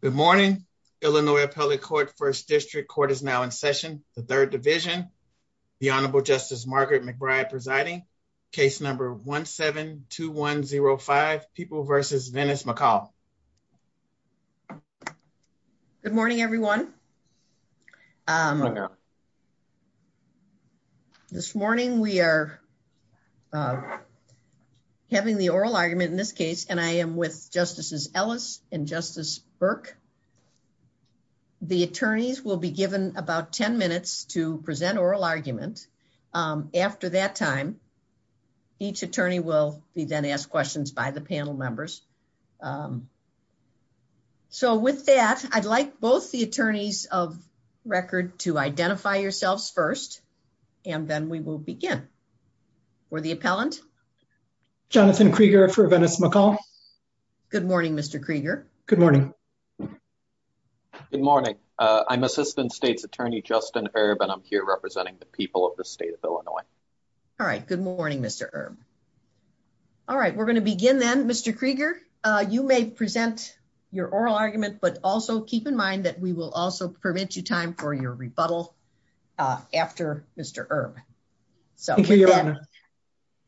Good morning. Illinois Appellate Court First District Court is now in session. The Third Division, the Honorable Justice Margaret McBride presiding. Case number 1-7-2105, People v. Venice McCall. Good morning, everyone. This morning we are having the oral argument in this case, and I am with Justices Ellis and Justice Burke. The attorneys will be given about 10 minutes to present oral argument. After that time, each attorney will be then asked questions by the panel members. So with that, I'd like both the attorneys of record to identify yourselves first, and then we will begin. For the appellant, Jonathan Krieger for Venice McCall. Good morning, Mr. Krieger. Good morning. Good morning. I'm Assistant State's Attorney Justin Erb, and I'm here representing the people of the state of Illinois. All right, good morning, Mr. Erb. All right, we're going to begin then. Mr. Krieger, you may present your oral argument, but also keep in mind that we will also prevent you time for your rebuttal after Mr. Erb. Thank you, Your Honor.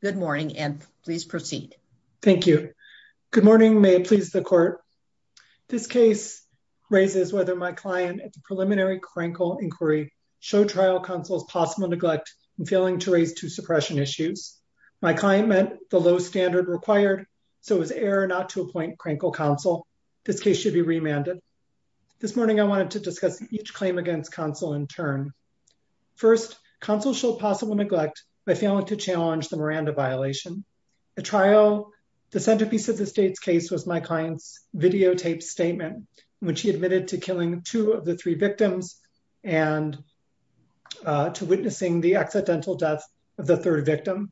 Good morning, and please proceed. Thank you. Good morning. May it please the Court. This case raises whether my client at the preliminary Krenkel inquiry showed trial counsel's possible neglect in failing to raise two suppression issues. My client met the low standard required, so it was error not to appoint Krenkel counsel. This case should be remanded. This morning, I wanted to discuss each claim against counsel in turn. First, counsel showed possible neglect by failing to challenge the Miranda violation. The centerpiece of the state's case was my client's videotaped statement when she admitted to killing two of the three victims and to witnessing the accidental death of the third victim.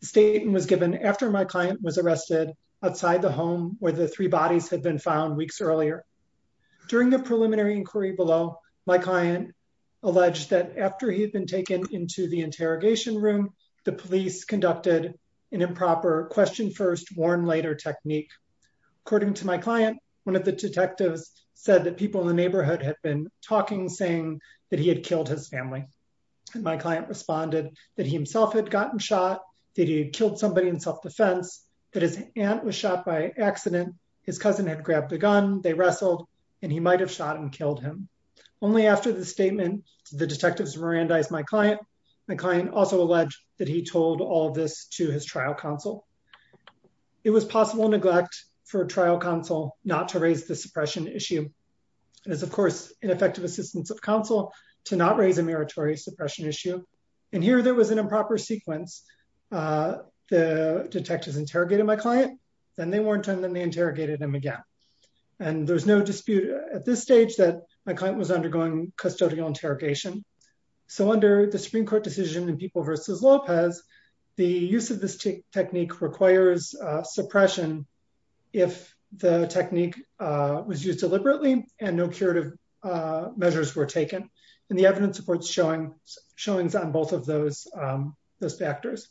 The statement was given after my client was arrested outside the home where the three bodies had been found weeks earlier. During the preliminary inquiry below, my client alleged that after he had been taken into the interrogation room, the police conducted an improper question first, warn later technique. According to my client, one of the detectives said that people in the neighborhood had been talking, saying that he had killed his family. My client responded that he himself had gotten shot, that he had killed somebody in self-defense, that his aunt was shot by accident, his cousin had grabbed the gun, they wrestled, and he might have shot and killed him. Only after the statement, the detectives Mirandized my client. My client also alleged that he told all this to his trial counsel. It was possible neglect for a trial counsel not to raise the suppression issue. It was, of course, ineffective assistance of counsel to not raise a meritorious suppression issue. And here, there was an improper sequence. The detectives interrogated my client, then they warned them, then they interrogated them again. And there's no dispute at this stage that my client was undergoing custodial interrogation. So under the Supreme Court decision in People v. Lopez, the use of this technique requires suppression if the technique was used deliberately and no curative measures were taken. And the evidence supports showings on both of those factors.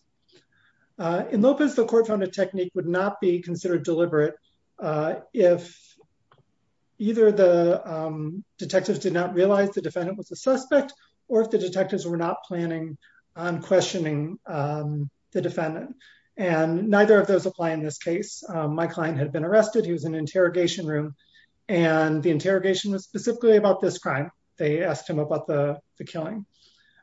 In Lopez, the court found the technique would not be considered deliberate if either the detectives did not realize the defendant was a suspect or if the detectives were not planning on questioning the defendant. And neither of those apply in this case. My client had been arrested. He was in interrogation room. And the interrogation was specifically about this crime. They asked him about the killing.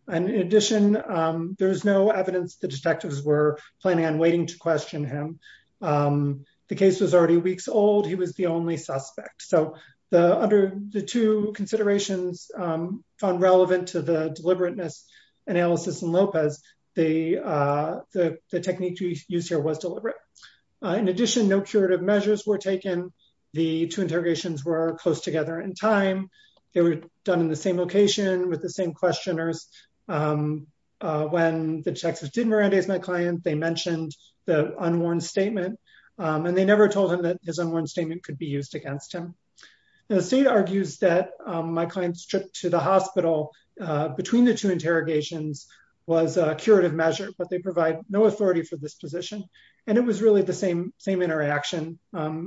And in addition, there was no evidence the detectives were planning on waiting to question him. The case was already weeks old. He was the only suspect. So under the two considerations found relevant to the deliberateness analysis in Lopez, the technique used here was deliberate. In addition, no curative They were done in the same location with the same questioners. When the detectives didn't arrange my client, they mentioned the unwarned statement. And they never told him that his unwarned statement could be used against him. The state argues that my client's trip to the hospital between the two interrogations was a curative measure, but they provide no authority for this position. And it was really the same interaction.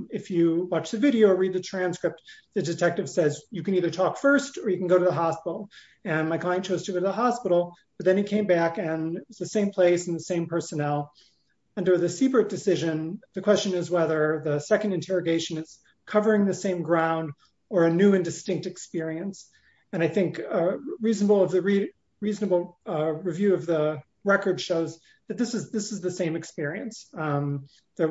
If you watch the video or read the transcript, the detective says you can either talk first or you can go to the hospital. And my client chose to go to the hospital, but then he came back and it's the same place and the same personnel. Under the Siebert decision, the question is whether the second interrogation is covering the same ground or a new and distinct experience. And I think a reasonable review of the record shows that this is the same experience. They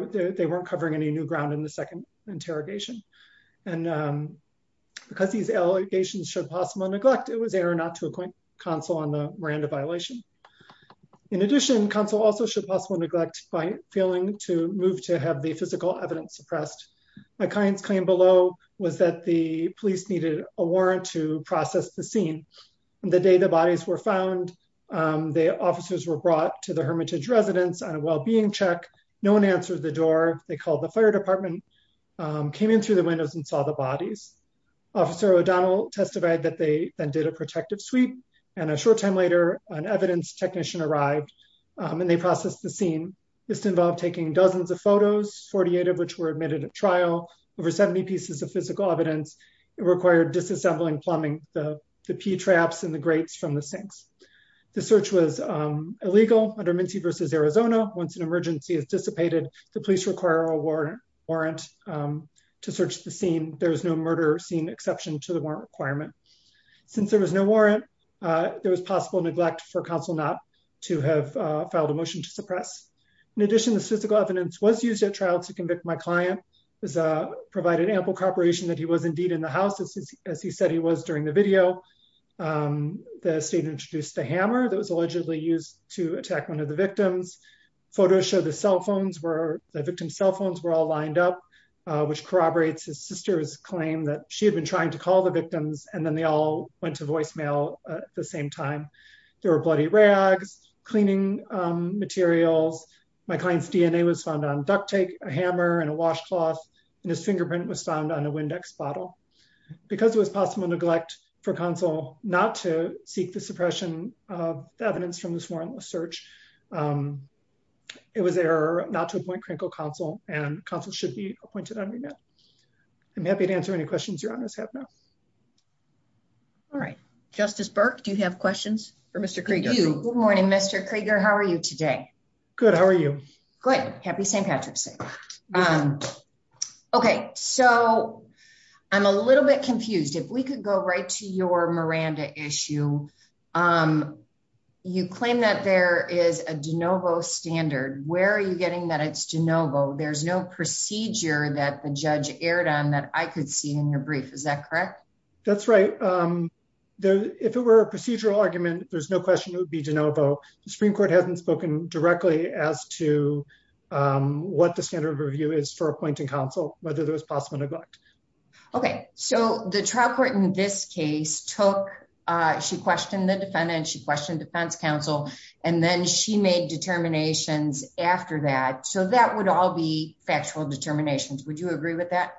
weren't covering any new ground in the second interrogation. And because these allegations showed possible neglect, it was error not to appoint counsel on the Miranda violation. In addition, counsel also showed possible neglect by failing to move to have the physical evidence suppressed. My client's claim below was that the police needed a warrant to process the scene. The data bodies were found. The officers were brought to the Hermitage residence on a well-being check. No one answered the door. They called the came in through the windows and saw the bodies. Officer O'Donnell testified that they then did a protective sweep. And a short time later, an evidence technician arrived and they processed the scene. This involved taking dozens of photos, 48 of which were admitted at trial, over 70 pieces of physical evidence. It required disassembling, plumbing, the pee traps and the grates from the sinks. The search was illegal under Mincy v. Arizona. Once an emergency is dissipated, the police require a warrant to search the scene. There was no murder scene exception to the warrant requirement. Since there was no warrant, there was possible neglect for counsel not to have filed a motion to suppress. In addition, the physical evidence was used at trial to convict my client. It provided ample corroboration that he was indeed in the house, as he said he was during the video. The state introduced a hammer that was allegedly used to attack one of the victims. Photos show the victim's cell phones were all lined up, which corroborates his sister's claim that she had been trying to call the victims, and then they all went to voicemail at the same time. There were bloody rags, cleaning materials. My client's DNA was found on duct tape, a hammer, and a washcloth. And his fingerprint was found on a Windex bottle. Because it was possible neglect for counsel not to seek the suppression of evidence from this warrantless search, it was an error not to appoint critical counsel, and counsel should be appointed on remand. I'm happy to answer any questions your honors have now. All right. Justice Burke, do you have questions for Mr. Krieger? Good morning, Mr. Krieger. How are you today? Good. How are you? Good. Happy St. Patrick's Day. Okay, so I'm a little bit confused. If we could go right to your Miranda issue. You claim that there is a de novo standard. Where are you getting that it's de novo? There's no procedure that the judge erred on that I could see in your brief. Is that correct? That's right. If it were a procedural argument, there's no question it would be de novo. The Supreme Court hasn't spoken directly as to what the standard of review is for appointing counsel, whether there's possible neglect. Okay, so the trial court in this case took, she questioned the defendant, she questioned defense counsel, and then she made determinations after that. So that would all be factual determinations. Would you agree with that?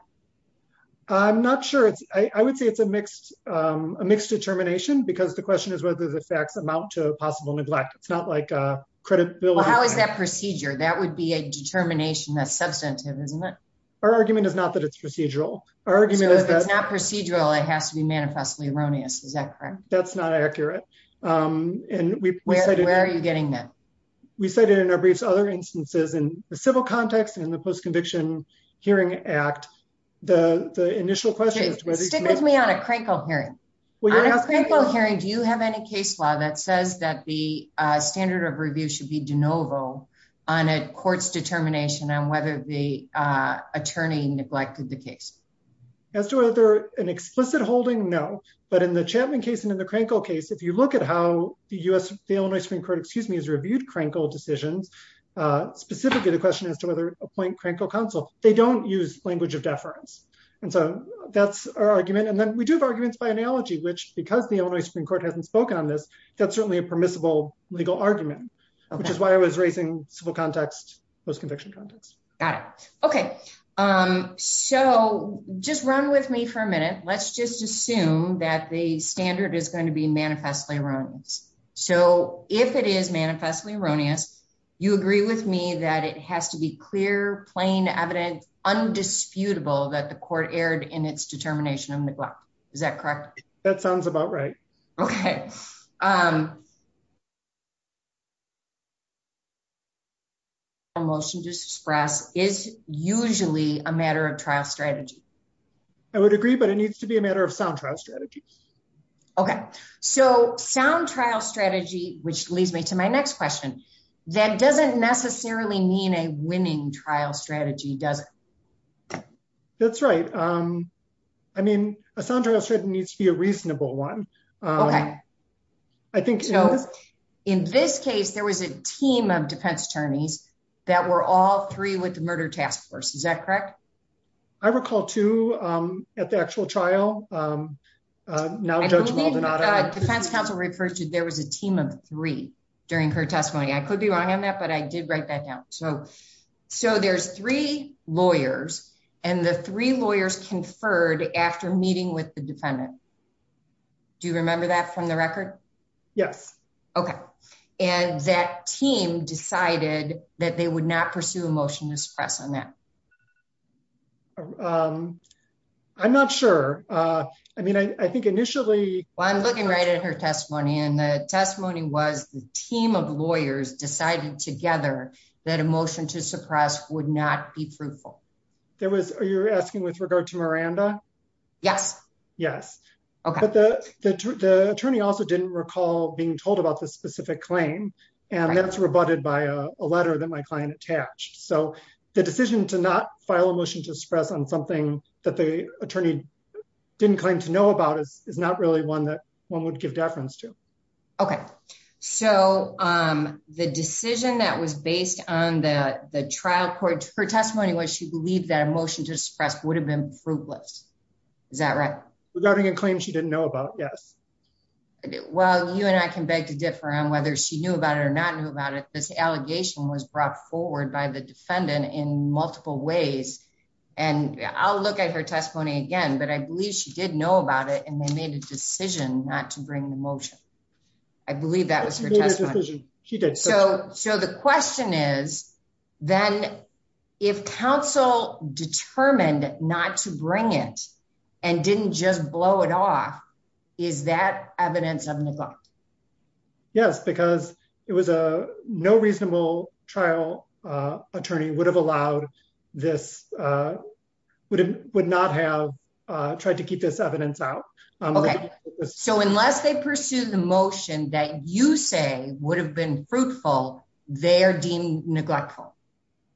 I'm not sure. I would say it's a mixed, a mixed determination because the question is whether the facts amount to possible neglect. It's not like a credibility. How is that procedure? That would be a determination that's substantive, isn't it? Our argument is not that it's procedural. Our argument is that it's not procedural. I have to be manifestly erroneous. Is that correct? That's not accurate. And where are you getting that? We said it in our briefs other instances in the civil context and the post-conviction hearing act. The initial question is whether you can... Stick with me on a crankle hearing. On a crankle hearing, do you have any case law that says that the standard of review should be de novo on a court's determination on whether the attorney neglected the case? As to whether an explicit holding, no. But in the Chapman case and in the crankle case, if you look at how the U.S., the Illinois Supreme Court, excuse me, has reviewed crankle decisions, specifically the question as to whether appoint crankle counsel, they don't use language of deference. And so that's our argument. And then we do have arguments by analogy, which because the Illinois Supreme Court hasn't spoke on this, that's certainly a permissible legal argument, which is why I was raising civil context, post-conviction context. Got it. Okay. So just run with me for a minute. Let's just assume that the standard is going to be manifestly erroneous. So if it is manifestly erroneous, you agree with me that it has to be clear, plain evidence, undisputable that the court Okay. Motion to disperse is usually a matter of trial strategy. I would agree, but it needs to be a matter of sound trial strategy. Okay. So sound trial strategy, which leads me to my next question, that doesn't necessarily mean a winning trial strategy, does it? That's right. I mean, a sound trial strategy needs to be a reasonable one. I think in this case, there was a team of defense attorneys that were all three with the murder task force. Is that correct? I recall two at the actual trial. There was a team of three during her testimony. I could be wrong on that, but I did write that down. So there's three lawyers and the three lawyers conferred after meeting with the defendant. Do you remember that from the record? Yes. Okay. And that team decided that they would not pursue a motion to disperse on that. I'm not sure. I mean, I think initially... Well, I'm looking right at her testimony and testimony was the team of lawyers decided together that a motion to suppress would not be fruitful. Are you asking with regard to Miranda? Yes. Yes. Okay. But the attorney also didn't recall being told about the specific claim and that's rebutted by a letter that my client attached. So the decision to not file a motion to suppress on something that the attorney didn't claim to know about is not really one that one could deference to. Okay. So the decision that was based on the trial court, her testimony was she believed that a motion to suppress would have been fruitless. Is that right? Regarding a claim she didn't know about, yes. Well, you and I can beg to differ on whether she knew about it or not knew about it. This allegation was brought forward by the defendant in multiple ways. And I'll look at her testimony again, but I believe she did know about it and made a decision not to bring the motion. I believe that was her testimony. She did. So the question is, then if counsel determined not to bring it and didn't just blow it off, is that evidence on the book? Yes, because it was a no reasonable trial attorney would have allowed this, would not have tried to keep this evidence out. So unless they pursue the motion that you say would have been fruitful, they're deemed neglectful.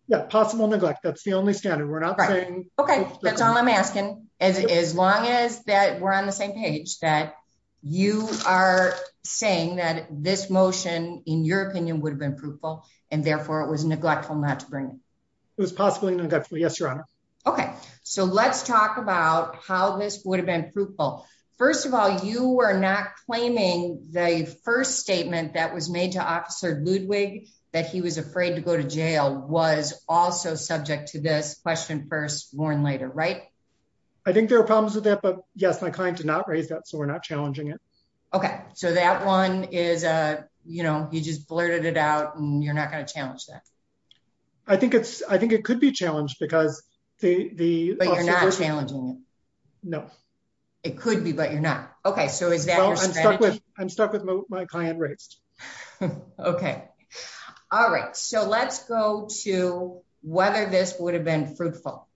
Yeah. Possible neglect. That's the only standard. Okay. That's all I'm asking. As long as that we're on the same page that you are saying that this motion in your opinion would have been fruitful and therefore it was neglectful not to Okay. So let's talk about how this would have been fruitful. First of all, you are not claiming the first statement that was made to officer Ludwig, that he was afraid to go to jail was also subject to this question first born later, right? I think there are problems with that, but yes, my client did not raise that. So we're not challenging it. Okay. So that one is, you just blurted it out and you're not going to challenge that. I think it could be challenged because the, but you're not challenging. No, it could be, but you're not. Okay. So is that, I'm stuck with my client rates. Okay. All right. So let's go to whether this would have been fruitful.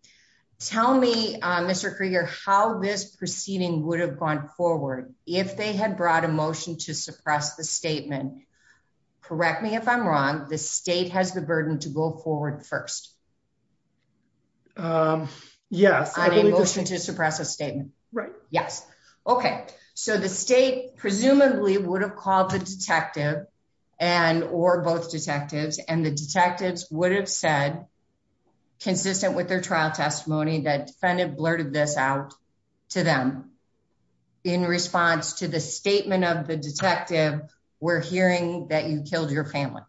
Tell me, Mr. Krieger, how this proceeding would have gone forward. If they had brought a motion to suppress the statement, correct me if I'm wrong, the state has the burden to go forward first. Um, yeah, I think we should just suppress a statement. Right. Yes. Okay. So the state presumably would have called the detective and, or both detectives and the detectives would have said consistent with their trial testimony that defendant blurted this out to them in response to the statement of the detective. We're hearing that you killed your family,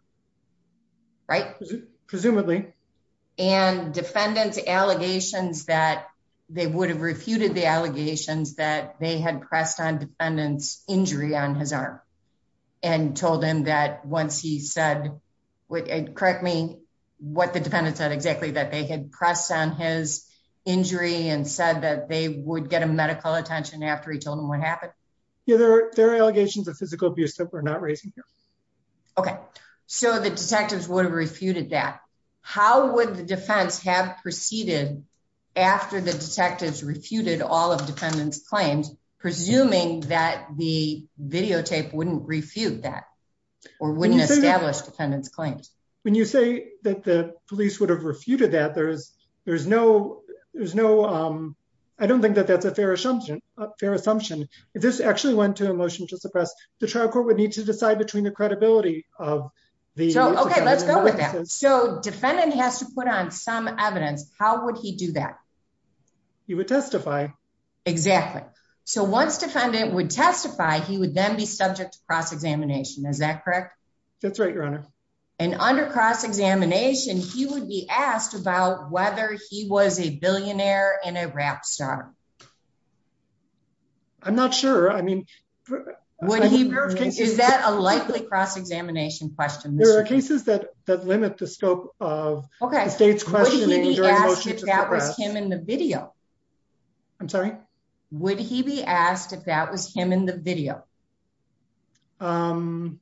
right? Presumably. And defendant allegations that they would have refuted the allegations that they had pressed on defendant's injury on his arm and told him that once he said, correct me what the defendant said exactly that they had pressed on his injury and said that they would get a medical attention after he told them what happened. Yeah, there were allegations of physical abuse that we're not raising here. Okay. So the detectives would have refuted that. How would the defense have proceeded after the detectives refuted all of defendant's claims, presuming that the videotape wouldn't refute that or wouldn't establish defendant's claims? When you say that the police would have refuted that there's, there's no, there's no, um, I don't think that that's a fair assumption, fair assumption. This actually went to a motion to suppress the trial court would need to decide between the credibility of the defendant. So defendant has to put on some evidence. How would he do that? He would testify. Exactly. So once defendant would testify, he would then be subject to cross examination. Is that correct? That's right, your honor. And under cross examination, he would be asked about whether he was a billionaire and a rap star. I'm not sure. I mean, is that a likely cross examination question? There are cases that, that limits the scope of the state's questioning. Would he be asked if that was him in the video? I'm sorry? Would he be asked if that was him in the video? Um,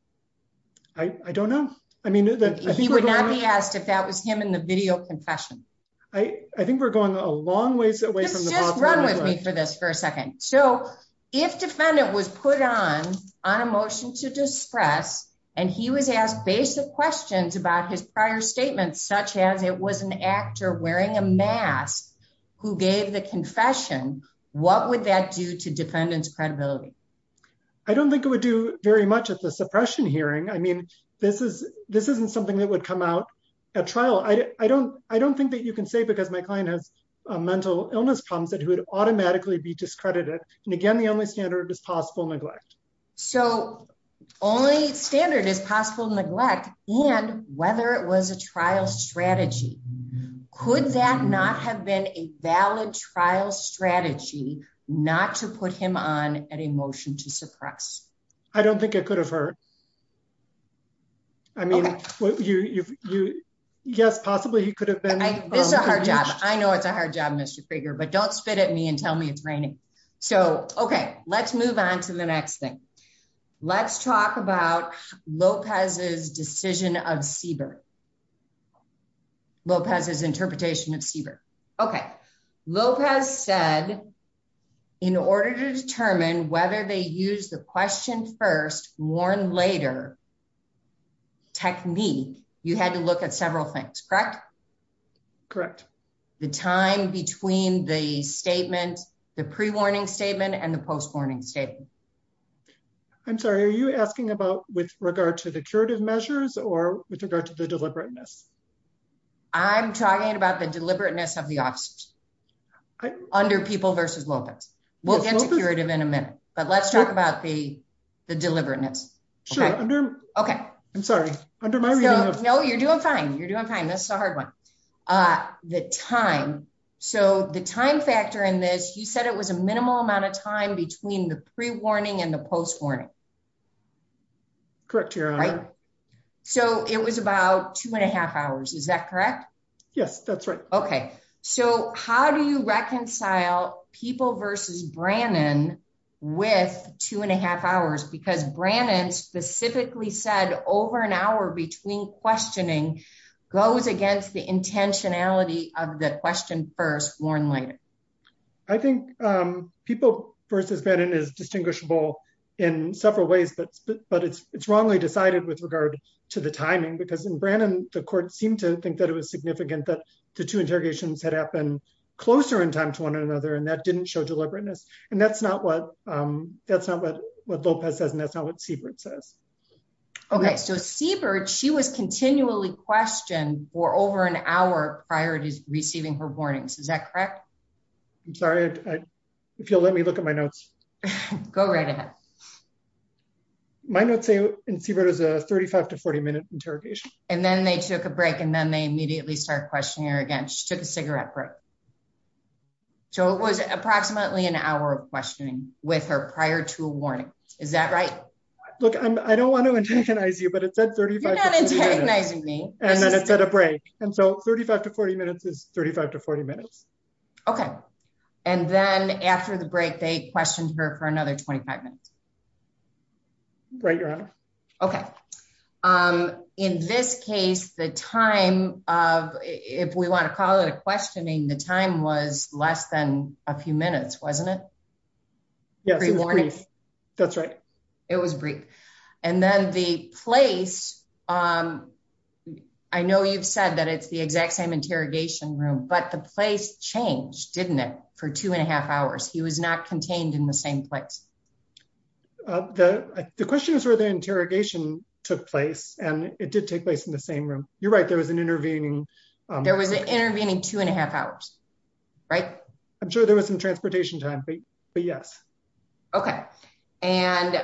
I, I don't know. I mean, if that was him in the video confession, I think we're going a long ways away from this for a second. So if defendant was put on, on a motion to dispress and he would have basic questions about his prior statements, such as it was an actor wearing a mask who gave the confession, what would that do to defendant's credibility? I don't think it would do very much as a suppression hearing. I mean, this is, this isn't something that would come out at trial. I don't, I don't think that you can say because my client has a mental illness problem that he would automatically be discredited. And again, the only standard is possible neglect. So only standard is possible neglect and whether it was a trial strategy, could that not have been a valid trial strategy not to put him on at emotion to suppress? I don't think it could have hurt. I mean, you, you, you guess possibly you could have been, I know it's a hard job, but don't spit at me and tell me it's raining. So, okay, let's move on to the next thing. Let's talk about Lopez's decision of Siebert. Lopez's interpretation of Siebert. Okay. Lopez said in order to determine whether they use the question first, warn later technique, you had to several things, correct? Correct. The time between the statement, the pre-warning statement and the post-warning statement. I'm sorry. Are you asking about with regard to the curative measures or with regard to the deliberateness? I'm talking about the deliberateness of the options under people versus Lopez. We'll get to curative in a minute, but let's talk about the, the deliberateness. Okay. I'm sorry. No, you're doing fine. You're doing fine. That's the hard one. The time. So the time factor in this, you said it was a minimal amount of time between the pre-warning and the post-warning. Correct. So it was about two and a half hours. Is that correct? Yes, that's right. Okay. So how do you reconcile people versus Brannan with two and a half hours? Because Brannan specifically said over an hour between questioning goes against the intentionality of the question first, warn later. I think people versus Brannan is distinguishable in several ways, but it's wrongly decided with regard to the timing because in Brannan, the court seemed to think that it was significant that the two interrogations had happened closer in time to one another and that didn't show deliberateness. And that's not what, that's not what Lopez says and that's not what Siebert says. Okay. So Siebert, she was continually questioned for over an hour prior to receiving her warnings. Is that correct? I'm sorry. If you'll let me look at my notes. Go right ahead. My notes say in Siebert is a 35 to 40 minute interrogation. And then they took a break and then they immediately started questioning her again. She took a cigarette break. So it was approximately an hour of questioning with her prior to a warning. Is that right? Look, I don't want to intaginize you, but it said 35 to 40 minutes. You're not intaginizing me. And then it said a break. And so 35 to 40 minutes is 35 to 40 minutes. Okay. And then after the break, they questioned her for another 25 minutes. Right. Your honor. Okay. In this case, the time of, if we want to call it a questioning, the time was less than a few minutes, wasn't it? Yeah. That's right. It was brief. And then the place, I know you've said that it's the exact same interrogation room, but the place changed, didn't it? For two and a half hours, he was not contained in the same place. The question is where the interrogation took place and it did take place in the same room. You're right. There was an intervening. There was an intervening two and a half hours. Right. I'm sure there was some transportation time, but yes. Okay. And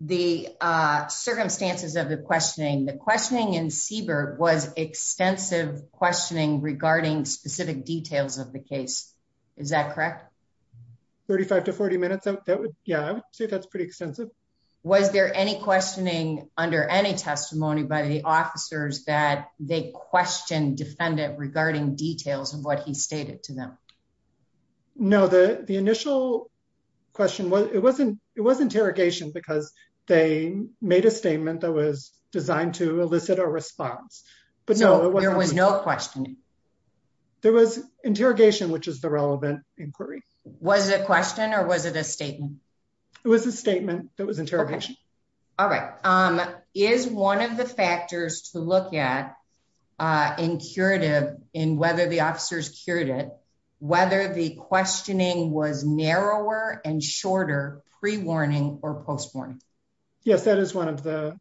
the circumstances of the questioning, the questioning in Siebert was extensive questioning regarding specific details of the case. Is that correct? 35 to 40 minutes. Yeah. I would say that's pretty extensive. Was there any questioning under any testimony by the officers that they questioned defendant regarding details of what he stated to them? No. The initial question, it was interrogation because they made a statement that was designed to elicit a response, but no. There was no questioning? There was interrogation, which is the relevant inquiry. Was it a question or was it a statement? It was a statement that was interrogation. Okay. Is one of the factors to look at in curative in whether the officers cured it, whether the questioning was narrower and shorter pre-warning or post-warning? Yes. That is one of the-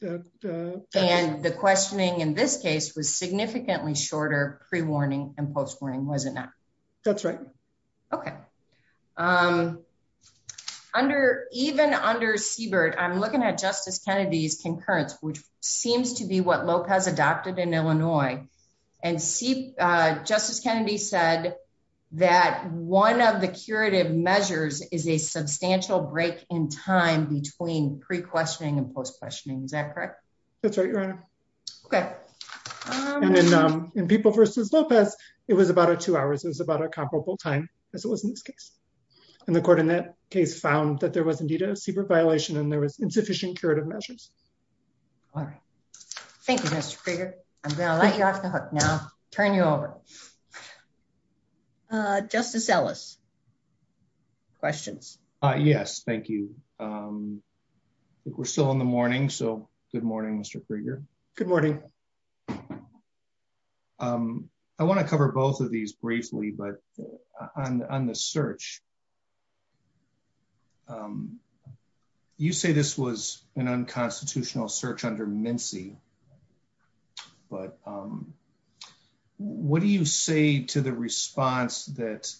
And the questioning in this case was significantly shorter pre-warning and post-warning, wasn't it? That's right. Okay. Even under Siebert, I'm looking at Justice Kennedy's concurrence, which that one of the curative measures is a substantial break in time between pre-questioning and post-questioning. Is that correct? That's right, Your Honor. Okay. And then in People v. Lopez, it was about a two hours. It was about a comparable time as it was in this case. And the court in that case found that there was indeed a Siebert violation and there was insufficient curative measures. All right. Thank you, Mr. Krieger. I'm going to let you off the hook now. Turn you over. Justice Ellis, questions? Yes. Thank you. I think we're still in the morning, so good morning, Mr. Krieger. Good morning. I want to cover both of these briefly, but on the search, you say this was an unconstitutional search under Mincie, but what do you say to the response that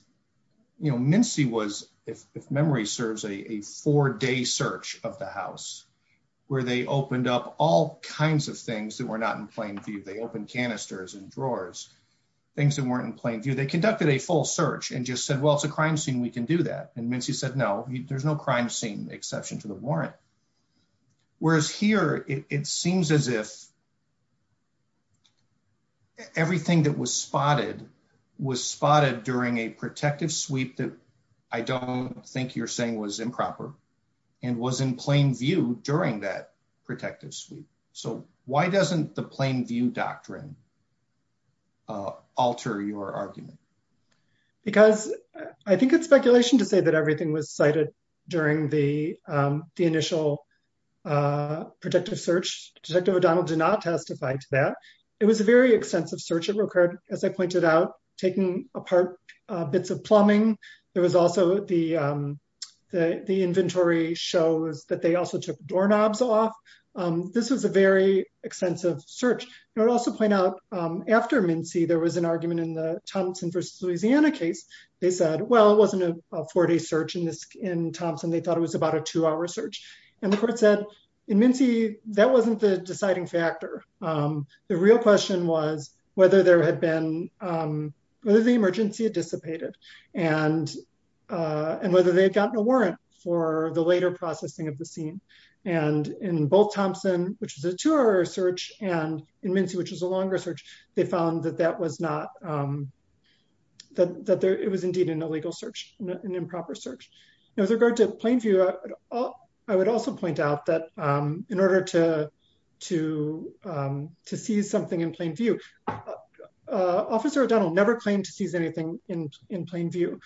Mincie was, if memory serves, a four-day search of the house where they opened up all kinds of things that were not in plain view. They opened canisters and drawers, things that weren't in plain view. They conducted a full search and just said, well, it's a crime scene. We can do that. And Mincie said, no, there's no crime scene, exception to the warrant. Whereas here, it seems as if everything that was spotted was spotted during a protective sweep that I don't think you're saying was improper and was in plain view during that protective sweep. So why doesn't the plain view doctrine alter your argument? Because I think it's speculation to say everything was cited during the initial protective search. Detective O'Donnell did not testify to that. It was a very extensive search. It required, as I pointed out, taking apart bits of plumbing. There was also the inventory shows that they also took doorknobs off. This was a very extensive search. I would also point out, after Mincie, there was an argument in the Thompson versus Louisiana case. They said, well, it wasn't a four-day search in Thompson. They thought it was about a two-hour search. And the court said, in Mincie, that wasn't the deciding factor. The real question was whether the emergency had dissipated and whether they had gotten a warrant for the later processing of the scene. And in both Thompson, which was that it was indeed an illegal search, an improper search. Now, with regard to plain view, I would also point out that in order to see something in plain view, Officer O'Donnell never claimed to see anything in plain view.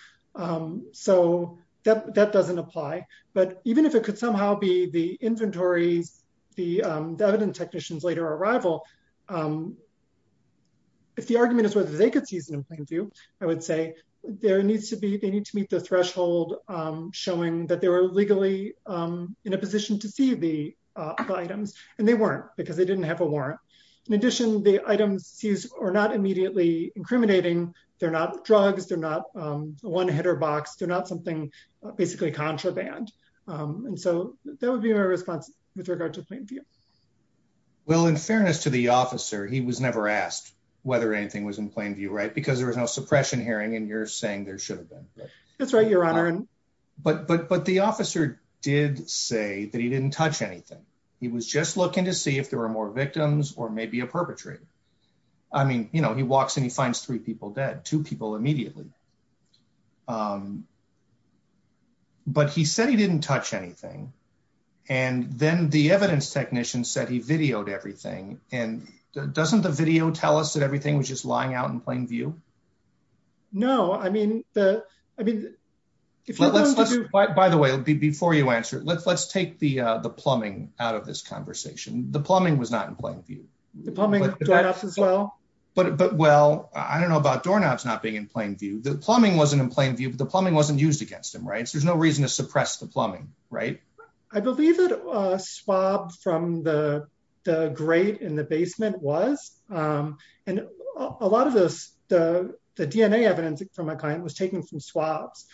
So that doesn't apply. But even if it could somehow be the inventory, the evidence technicians' later arrival, if the argument is whether they could see it in plain view, I would say they need to meet the threshold showing that they were legally in a position to see the items. And they weren't, because they didn't have a warrant. In addition, the items used are not immediately incriminating. They're not drugs. They're not one-header box. They're not something, basically, contraband. And so that would be my response with regard to plain view. Well, in fairness to the officer, he was never asked whether anything was in plain view, right? Because there was no suppression hearing, and you're saying there should have been. That's right, Your Honor. But the officer did say that he didn't touch anything. He was just looking to see if there were more victims or maybe a perpetrator. I mean, you know, he walks and he finds three people dead, two people immediately. But he said he didn't touch anything. And then the evidence technician said he videoed everything. And doesn't the video tell us that everything was just lying out in plain view? No. I mean, the... By the way, before you answer it, let's take the plumbing out of this conversation. The plumbing was not in plain view. The plumbing of doorknobs as well? But, well, I don't know about doorknobs not being in plain view. The plumbing wasn't in plain view. The plumbing wasn't used against him, right? There's no reason to suppress the plumbing, right? I believe that a swab from the grate in the basement was. And a lot of the DNA evidence of some kind was taking some swabs.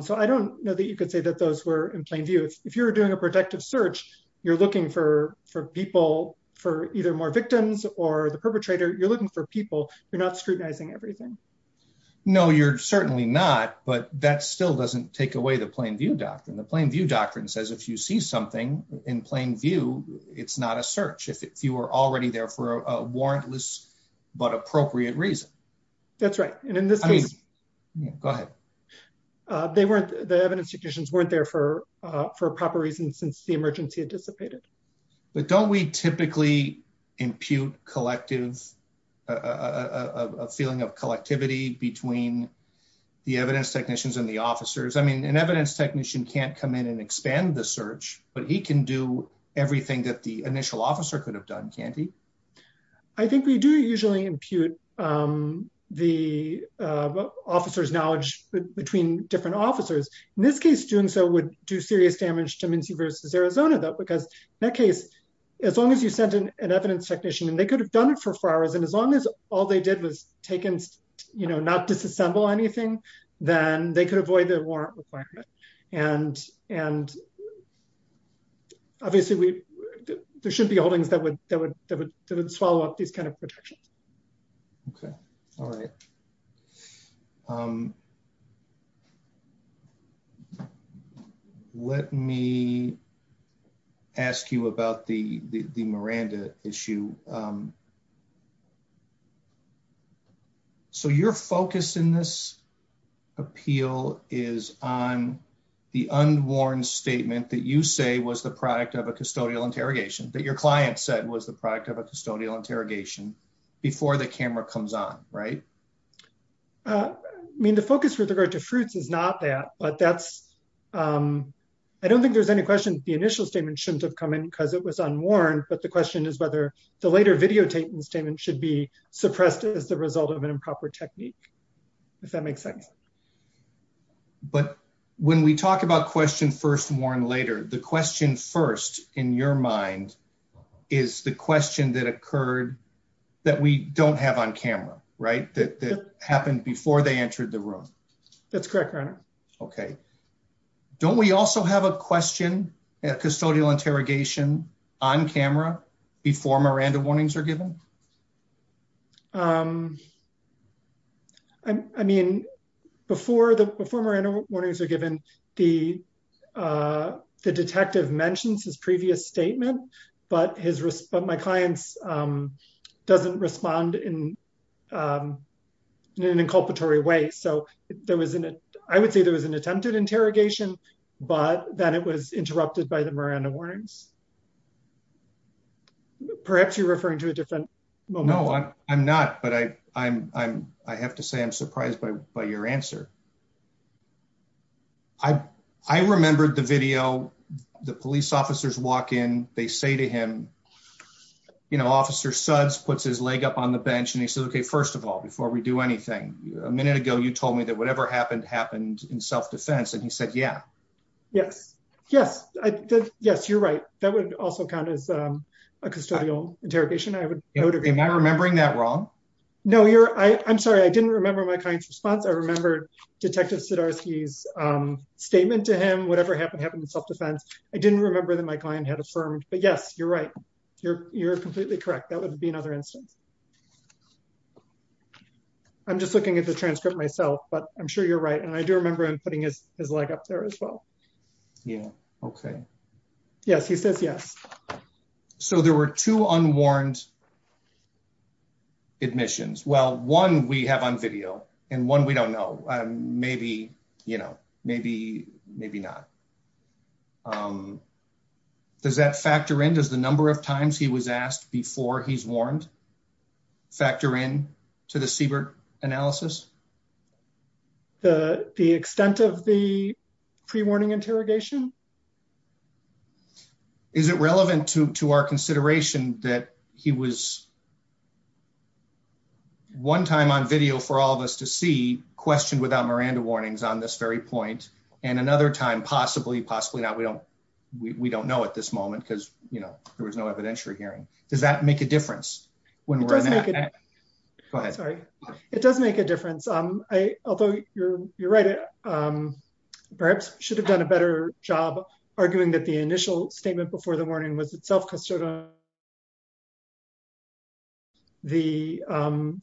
So I don't know that you could say that those were in plain view. If you were doing a protective search, you're looking for people, for either more victims or the perpetrator. You're looking for people. You're not scrutinizing everything. No, you're certainly not. But that still doesn't take away the plain view doctrine. The plain view doctrine says, if you see something in plain view, it's not a search. If you were already there for a warrantless but appropriate reason. That's right. And in this case... Go ahead. The evidence technicians weren't there for proper reasons since the emergency anticipated. But don't we typically impute a feeling of collectivity between the evidence technician can't come in and expand the search, but he can do everything that the initial officer could have done, can't he? I think we do usually impute the officer's knowledge between different officers. In this case, doing so would do serious damage to Muncie versus Arizona, though, because in that case, as long as you sent in an evidence technician and they could have done it for four hours, and as long as all they did was not disassemble anything, then they could avoid a warrant requirement. And obviously, there should be holdings that would follow up these kind of projections. Okay. All right. Let me ask you about the Miranda issue. So your focus in this appeal is on the unwarned statement that you say was the product of a custodial interrogation, that your client said was the product of a custodial interrogation before the camera comes on, right? I mean, the focus with regard to fruits is not that, but that's... I don't think there's any question the initial statement shouldn't have come in because it was later videotaped, and the statement should be suppressed as the result of an improper technique, if that makes sense. But when we talk about question first and warrant later, the question first in your mind is the question that occurred that we don't have on camera, right? That happened before they entered the room. That's correct, Your Honor. Okay. Don't we also have a question at custodial interrogation on camera before Miranda warnings are given? I mean, before Miranda warnings are given, the detective mentions his previous statement, but my client doesn't respond in an inculpatory way. So I would say there was an attempted interrogation, but then it was interrupted by the Miranda warnings. Perhaps you're referring to a different moment. No, I'm not, but I have to say I'm surprised by your answer. I remembered the video, the police officers walk in, they say to him, you know, Officer Suds puts his leg up on the bench, and he says, okay, first of all, before we do anything, a minute ago, you told me that whatever happened happened in self-defense, and he said, yeah. Yes. Yes. Yes, you're right. That would also count as a custodial interrogation. Am I remembering that wrong? No, I'm sorry. I didn't remember my client's response. I remember Detective Sudarsu's statement to him, whatever happened happened in self-defense. I didn't remember that my client had affirmed, but yes, you're right. You're completely correct. That would be another instance. I'm just looking at the transcript myself, but I'm sure you're right, and I do remember him putting his leg up there as well. Yeah. Okay. Yes, he says yes. So there were two unwarned admissions. Well, one we have on video, and one we don't know. Maybe, you know, maybe, maybe not. Does that factor in? Does the number of times he was asked before he's warned factor in to the Siebert analysis? The extent of the pre-warning interrogation? Is it relevant to our consideration that he was one time on video for all of us to see, questioned without Miranda warnings on this very point, and another time, possibly, possibly not. We don't know at this moment because, you know, there was no evidentiary hearing. Does that make a difference? Go ahead. Sorry. It does make a difference. Although you're right, perhaps I should have done a better job arguing that the initial statement before the warning was itself the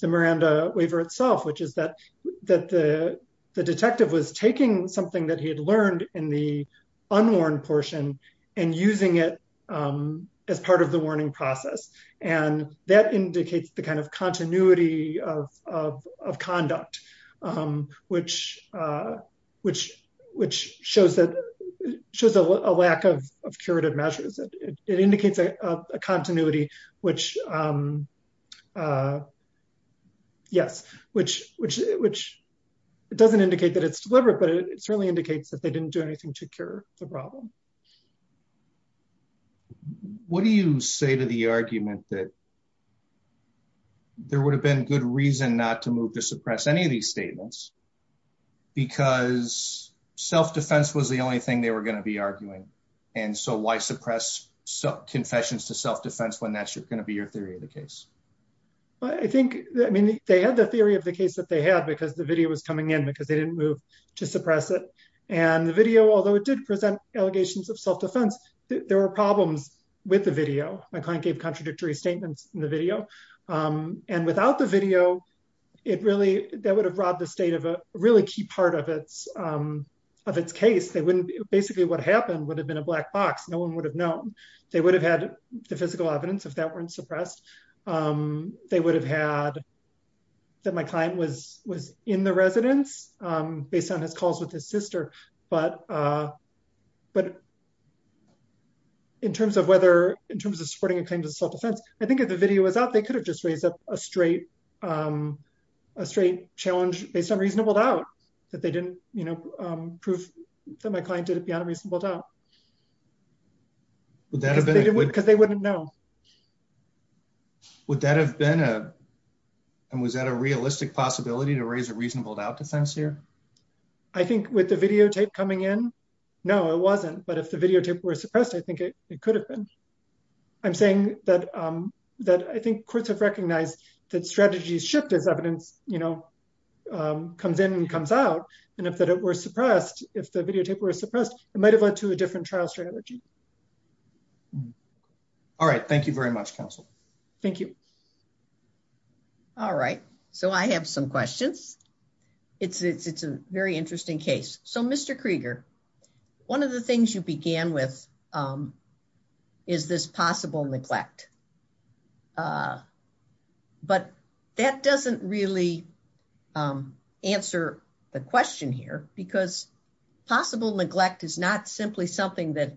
Miranda waiver itself, which is that the detective was taking something that he had as part of the warning process, and that indicates the kind of continuity of conduct, which shows a lack of curative measures. It indicates a continuity, which, yes, which doesn't indicate that it's deliberate, but it certainly indicates that they didn't do the problem. What do you say to the argument that there would have been good reason not to move to suppress any of these statements because self-defense was the only thing they were going to be arguing, and so why suppress confessions to self-defense when that's going to be your theory of the case? I think, I mean, they had the theory of the case that they had because the video was allegations of self-defense. There were problems with the video. My client gave contradictory statements in the video, and without the video, it really, that would have robbed the state of a really key part of its case. They wouldn't, basically what happened would have been a black box. No one would have known. They would have had the physical evidence if that weren't suppressed. They would have had that my client was in the residence based on his calls with his but in terms of whether, in terms of supporting a claim to self-defense, I think if the video was out, they could have just raised up a straight, a straight challenge based on reasonable doubt that they didn't, you know, prove that my client did it beyond a reasonable doubt because they wouldn't know. Would that have been a, and was that a realistic possibility to raise a reasonable doubt defense here? I think with the videotape coming in, no, it wasn't, but if the videotape were suppressed, I think it could have been. I'm saying that I think courts have recognized that strategies shift as evidence, you know, comes in and comes out, and if it were suppressed, if the videotape were suppressed, it might have led to a different trial strategy. All right. Thank you very much, counsel. Thank you. All right. So, I have some questions. It's a very interesting case. So, Mr. Krieger, one of the things you began with is this possible neglect, but that doesn't really answer the question here because possible neglect is not simply something that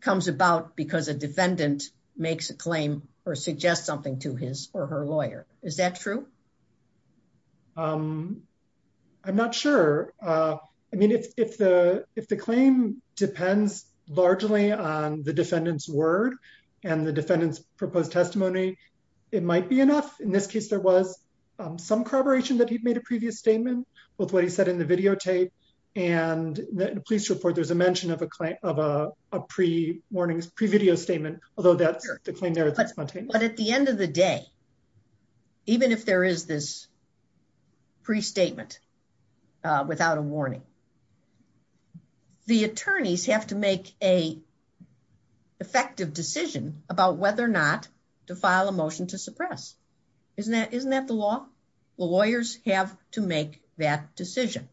comes about because a defendant makes a claim or suggests something to his or her lawyer. Is that true? I'm not sure. I mean, if the claim depends largely on the defendant's word and the defendant's proposed testimony, it might be enough. In this case, there was some corroboration that he'd made a previous statement with what he of a pre-warnings, pre-video statement, although the claim there is spontaneous. But at the end of the day, even if there is this pre-statement without a warning, the attorneys have to make an effective decision about whether or not to file a motion to suppress. Isn't that the law? Lawyers have to make that decision.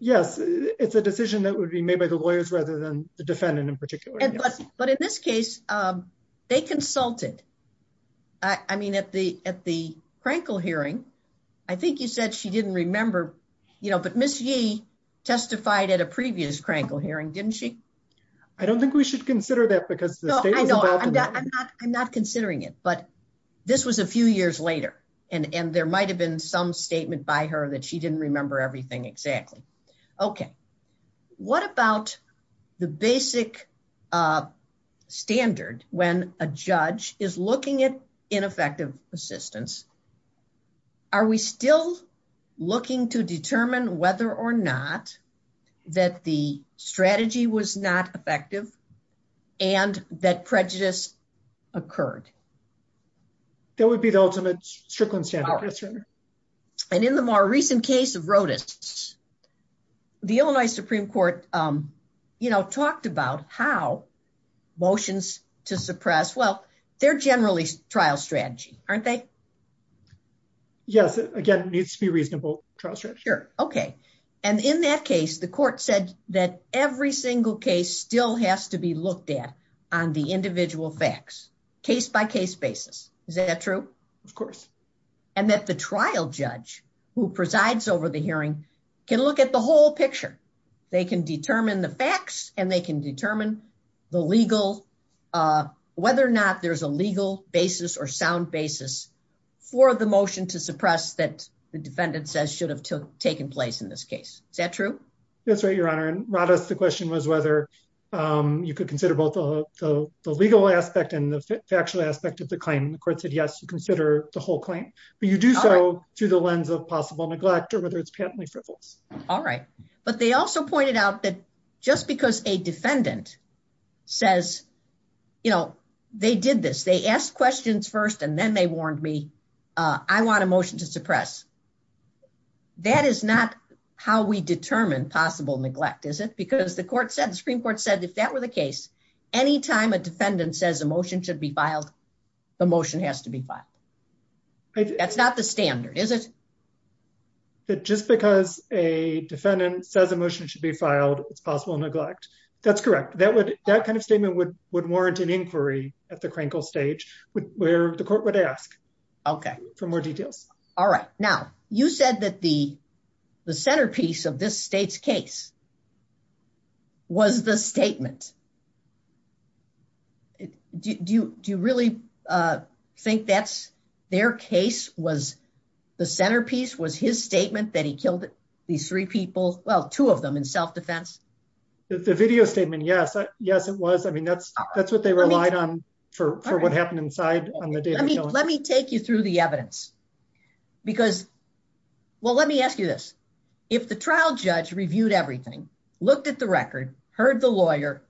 Yes. It's a decision that would be made by the lawyers rather than the defendant in particular. But in this case, they consulted. I mean, at the Krankel hearing, I think you said she didn't remember, but Ms. Yee testified at a previous Krankel hearing, didn't she? I don't think we should consider that because the statement was out of order. I'm not considering it, but this was a few years later, and there might have been some statement by her that she didn't remember everything exactly. Okay. What about the basic standard when a judge is looking at ineffective assistance? Are we still looking to determine whether or not that the strategy was not effective and that prejudice occurred? That would be the ultimate strickland standard. And in the more recent case of Rodas, the Illinois Supreme Court talked about how motions to suppress, well, they're generally trial strategy, aren't they? Yes. Again, it needs to be a reasonable trial strategy. Sure. Okay. And in that case, the court said that every single case still has to be looked at on the individual facts, case by case basis. Is that true? Of course. And that the trial judge who presides over the hearing can look at the whole picture. They can determine the facts, and they can determine whether or not there's a legal basis or sound basis for the motion to suppress that the defendant says should have taken place in this case. Is that true? That's right, Your Honor. In Rodas, the question was whether you could consider both the legal aspect and the factual aspect of the claim. The court said, yes, you consider the whole claim, but you do so through the lens of possible neglect or whether it's patently frivolous. All right. But they also pointed out that just because a defendant says, they did this, they asked questions first and then they warned me, I want a motion to suppress. That is not how we determine possible neglect, is it? Because the court said, the Supreme Court said, if that were the case, any time a defendant says a motion should be filed, the motion has to be filed. That's not the standard, is it? But just because a defendant says a motion should be filed, it's possible neglect. That's correct. That kind of statement would warrant an inquiry at the crankle stage, where the court would ask for more details. All right. Now, you said that the centerpiece of this state's case was the statement. Do you really think that their case was the centerpiece, was his statement that he killed these three people, well, two of them in self-defense? The video statement, yes. Yes, it was. That's what they relied on for what happened inside. Let me take you through the evidence. Well, let me ask you this. If the trial judge reviewed everything, looked at the record, heard the lawyer,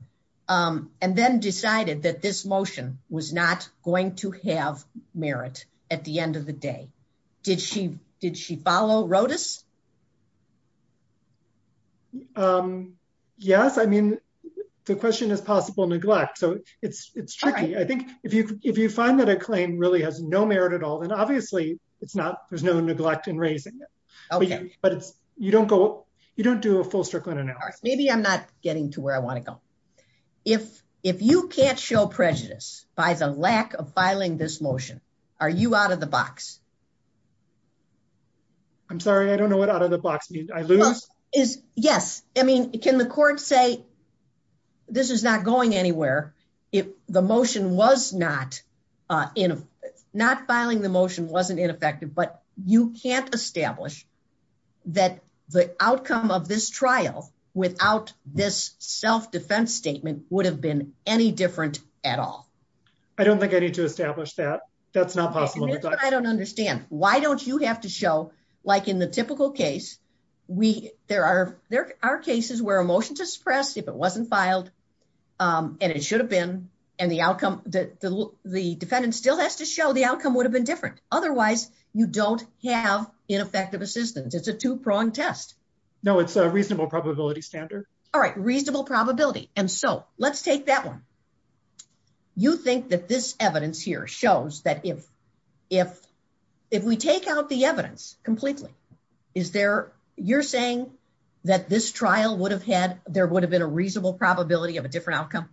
and then decided that this motion was not going to have merit at the end of the day, did she follow Rodas? Yes. The question is possible neglect. It's tricky. I think if you find that claim really has no merit at all, and obviously there's no neglect in raising it, but you don't do a full circle in an hour. Maybe I'm not getting to where I want to go. If you can't show prejudice by the lack of filing this motion, are you out of the box? I'm sorry, I don't know what out of the box means. I lose? Yes. I mean, can the court say this is not going anywhere if the motion was not filing the motion wasn't ineffective, but you can't establish that the outcome of this trial without this self-defense statement would have been any different at all? I don't think I need to establish that. That's not possible. I don't understand. Why don't you have to show, like in the typical case, there are cases where a motion is suppressed if it wasn't filed, and it should have been, and the defendant still has to show the outcome would have been different. Otherwise, you don't have ineffective assistance. It's a two-pronged test. No, it's a reasonable probability standard. All right. Reasonable probability. Let's take that one. You think that this evidence here shows that if we take out the evidence completely, you're saying that this trial would have had, there would have been a reasonable probability of a different outcome?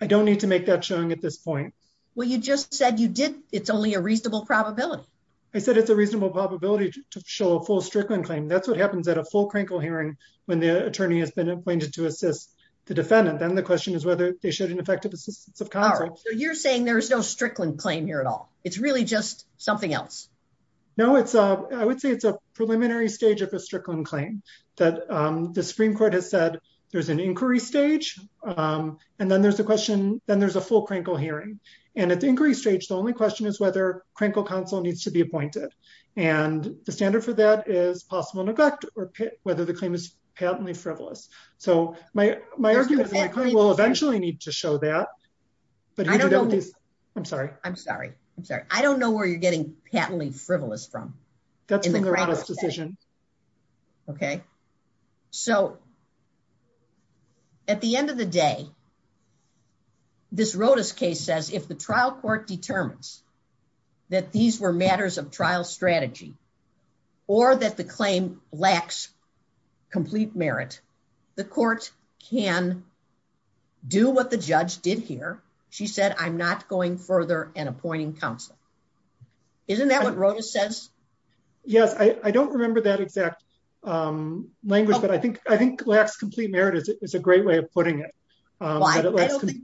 I don't need to make that showing at this point. Well, you just said you did. It's only a reasonable probability. I said it's a reasonable probability to show a full Strickland claim. That's what happens at a full crankle hearing when the attorney has been appointed to assist the defendant. Then the question is whether they showed an effective assistance of consequence. All right. So you're saying there's no Strickland claim here at all. It's really just something else. No, I would say it's a preliminary stage of a Strickland claim. The Supreme Court has said there's an inquiry stage. Then there's a full crankle hearing. At the inquiry stage, the only question is whether crankle counsel needs to be appointed. The standard for that is possible neglect or whether the claim is patently frivolous. My argument is the attorney will eventually need to show that. I'm sorry. I'm sorry. I'm sorry. I don't know where you're getting patently frivolous from. That's not sufficient. Okay. So at the end of the day, this Rodas case says if the trial court determines that these were matters of trial strategy or that the claim lacks complete merit, the court can do what the judge did here. She said, I'm not going further and appointing counsel. Isn't that what Rodas says? Yes. I don't remember that exact language, but I think lacks complete merit is a great way of putting it.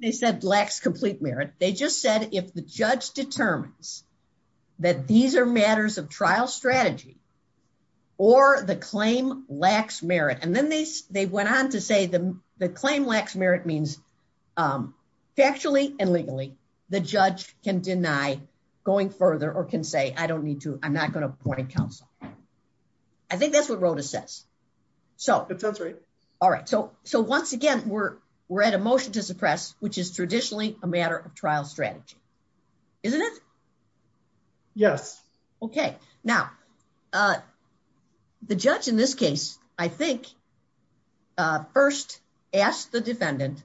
They said lacks complete merit. They just said if the judge determines that these are matters of trial strategy or the claim lacks merit, and then they went on to say the claim lacks merit means factually and legally the judge can deny going further or can say, I don't need to, I'm not going to appoint counsel. I think that's what Rodas says. All right. So once again, we're at a motion to suppress, which is traditionally a matter of trial strategy. Isn't it? Yes. Okay. Now the judge in this case, I think first asked the defendant,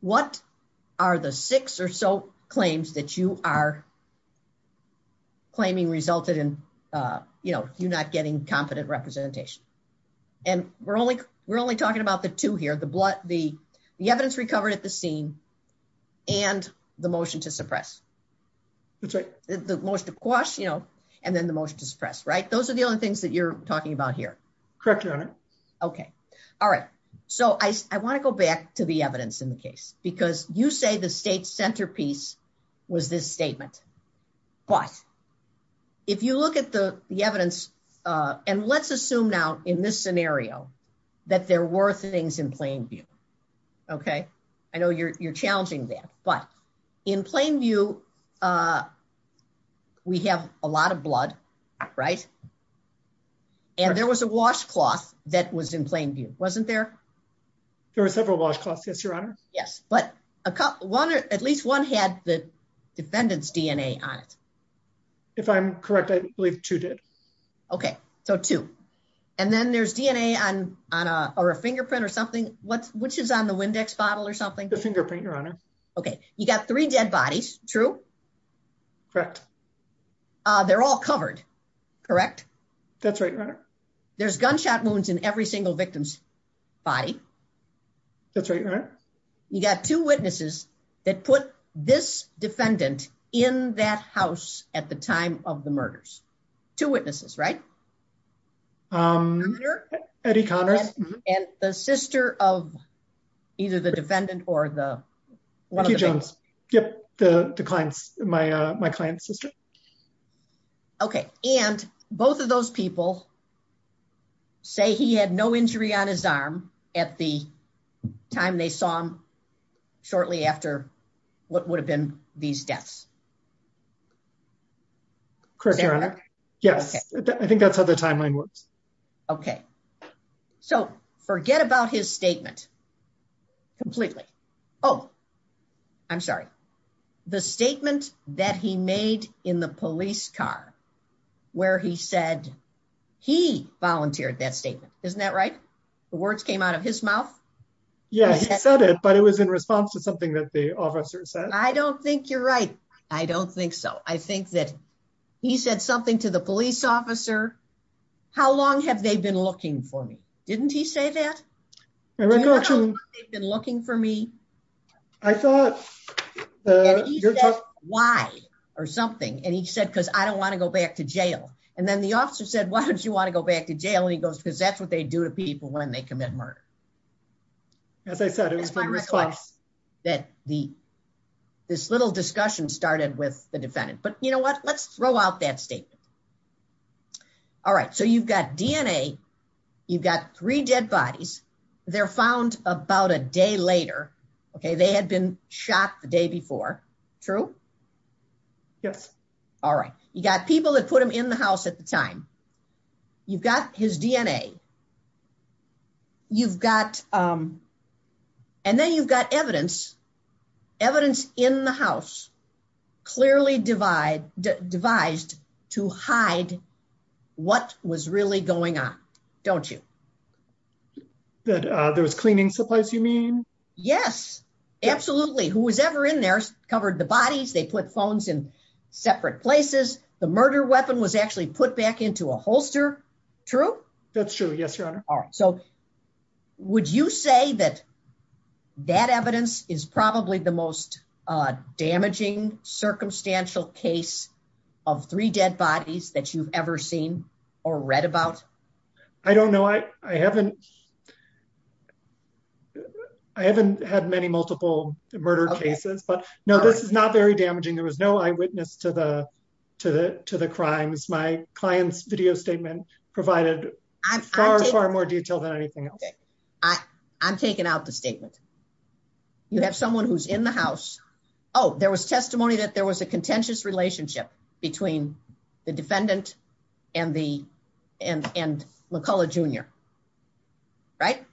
what are the six or so claims that you are claiming resulted in you not getting confident representation? And we're only talking about the two here, the evidence recovered at the and then the motion to suppress, right? Those are the only things that you're talking about here. Correct, Your Honor. Okay. All right. So I want to go back to the evidence in the case, because you say the state centerpiece was this statement. But if you look at the evidence, and let's assume now in this scenario, that there were things in plain view. Okay. I know you're challenging that, but in plain view, we have a lot of blood, right? And there was a washcloth that was in plain view, wasn't there? There were several washcloths, yes, Your Honor. Yes. But at least one had the defendant's DNA on it. If I'm correct, I believe two did. Okay, so two. And then there's DNA on a fingerprint or something. Which is on the Windex bottle or something? The fingerprint, Your Honor. Okay. You got three dead bodies, true? Correct. They're all covered, correct? That's right, Your Honor. There's gunshot wounds in every single victim's body. That's right, Your Honor. You got two witnesses that put this defendant in that house at the time of the murders. Two witnesses, right? Eddie Conner. And the sister of either the defendant or the- Jackie Jones. Yep. My client's sister. Okay. And both of those people say he had no injury on his arm at the time they saw him shortly after what would have been these deaths. Correct, Your Honor. Yes. I think that's how the timeline works. Okay. So forget about his statement completely. Oh, I'm sorry. The statement that he made in the police car where he said he volunteered that statement. Isn't that right? The words came out of his mouth? Yeah, he said it, but it was in response to something that the officer said. I don't think you're right. I don't think so. I think that he said something to the police officer. How long have they been looking for me? Didn't he say that? I thought- How long have they been looking for me? I thought- He said, why? Or something. And he said, because I don't want to go back to jail. And then the officer said, why don't you want to go back to jail? And he goes, because that's what they do to people when they commit murder. As I said, it was in response- That this little discussion started with the defendant. But you know what? Let's throw out that statement. All right. So you've got DNA. You've got three dead bodies. They're found about a day later. Okay. They had been shot the day before. True? Yes. All right. You got people that put them in the house at the time. You've got his DNA. And then you've got evidence evidence in the house clearly devised to hide what was really going on. Don't you? That there was cleaning supplies you mean? Yes. Absolutely. Who was ever in there covered the bodies. They put phones in separate places. The murder weapon was actually put back into a holster. True? That's true. Yes, Your Honor. So would you say that that evidence is probably the most damaging circumstantial case of three dead bodies that you've ever seen or read about? I don't know. I haven't had many multiple murder cases, but no, this is not very damaging. There was no eyewitness to the crimes. My client's video statement provided far, far more detail than anything else. I'm taking out the statement. You have someone who's in the house. Oh, there was testimony that there was a contentious relationship between the defendant and McCulloch Jr. Right?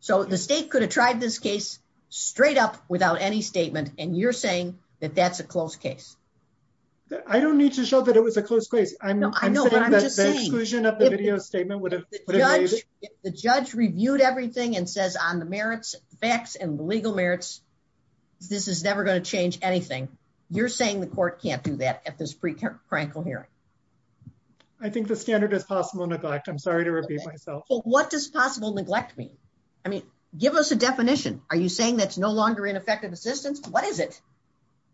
So the state could have tried this case straight up without any statement. And you're saying that that's a close case. I don't need to show that it was a close case. I know. The judge reviewed everything and says on the merits, facts and legal merits, this is never going to change anything. You're saying the court can't do that at this pre-trial hearing? I think the standard is possible neglect. I'm sorry to repeat myself. What does possible neglect mean? I mean, give us a definition. Are you saying that's no longer ineffective assistance? What is it?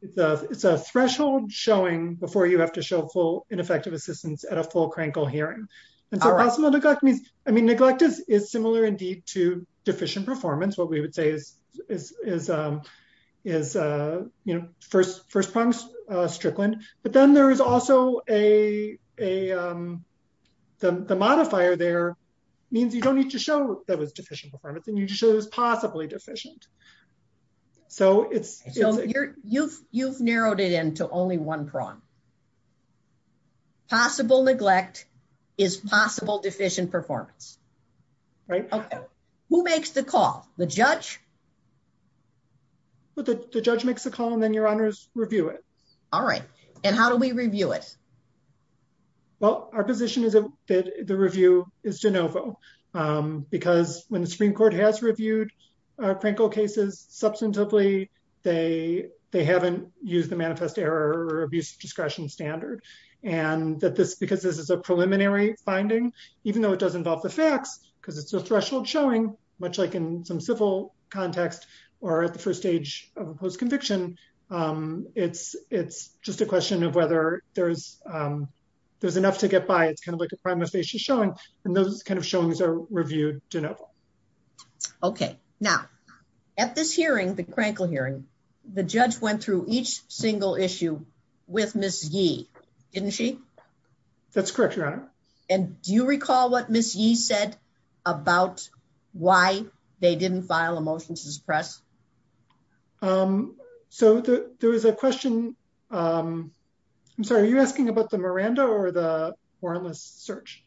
It's a threshold showing before you have to show full ineffective assistance at a full crankel hearing. And so possible neglect means, I mean, neglect is similar indeed to deficient performance. What we would say is, you know, first promise strickland. But then there is also a, the modifier there means you don't need to show that deficient performance and you just show that it's possibly deficient. So you've narrowed it into only one prong. Possible neglect is possible deficient performance. Who makes the call? The judge? The judge makes the call and then your honors review it. All right. And how do we review it? Well, our position is that the review is de novo because when the Supreme Court has reviewed our prankle cases substantively, they haven't used the manifest error or abuse discretion standard. And that this, because this is a preliminary finding, even though it does involve the facts, because it's a threshold showing much like in some civil context or at the first stage of a post conviction, um, it's, it's just a question of whether there's, um, there's enough to get by. It's kind of like a primary issue showing, and those kind of showings are reviewed. Okay. Now at this hearing, the crankle hearing, the judge went through each single issue with Ms. Yee, didn't she? That's correct, your honor. And do you recall what Ms. Yee said about why they didn't file a motion to suppress? Um, so there was a question, um, I'm sorry, are you asking about the Miranda or the wireless search?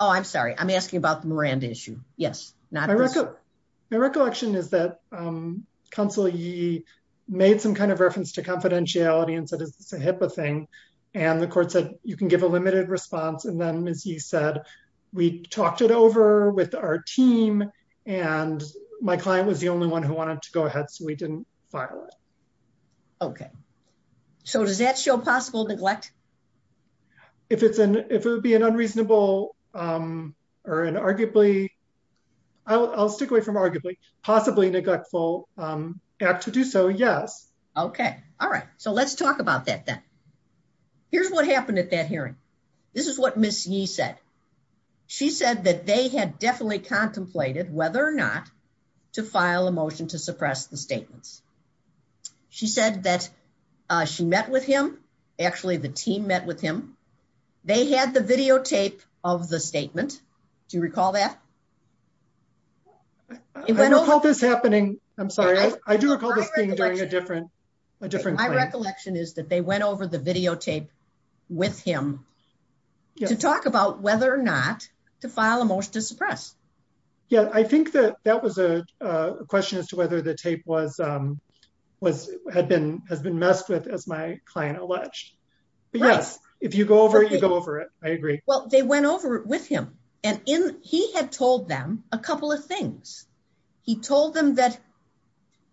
Oh, I'm sorry. I'm asking about the Miranda issue. Yes. My recollection is that, um, counsel Yee made some kind of reference to confidentiality and said it's a HIPAA thing. And the court said you can give a limited response. And then Ms. Yee said, we talked it over with our team and my client was the only one who wanted to go ahead. So we didn't file it. Okay. So does that show possible neglect? If it's an, if it would be an unreasonable, um, or an arguably, I'll stick away from arguably, possibly neglectful, um, act to do so, yes. Okay. All right. So let's talk about that then. Here's what happened at that hearing. This is what Ms. Yee said. She said that they had definitely contemplated whether or not to file a motion to suppress the statements. She said that, uh, she met with him. Actually the team met with him. They had the videotape of the statement. Do you recall that? I don't recall this happening. I'm sorry. I do recall this thing being a different, my recollection is that they went over the videotape with him to talk about whether or not to file a motion to suppress. Yeah. I think that that was a question as to whether the tape was, was, had been, has been messed with as my client alleged. But yes, if you go over it, you go over it. I agree. Well, they went over it with him and he had told them a couple of things. He told them that,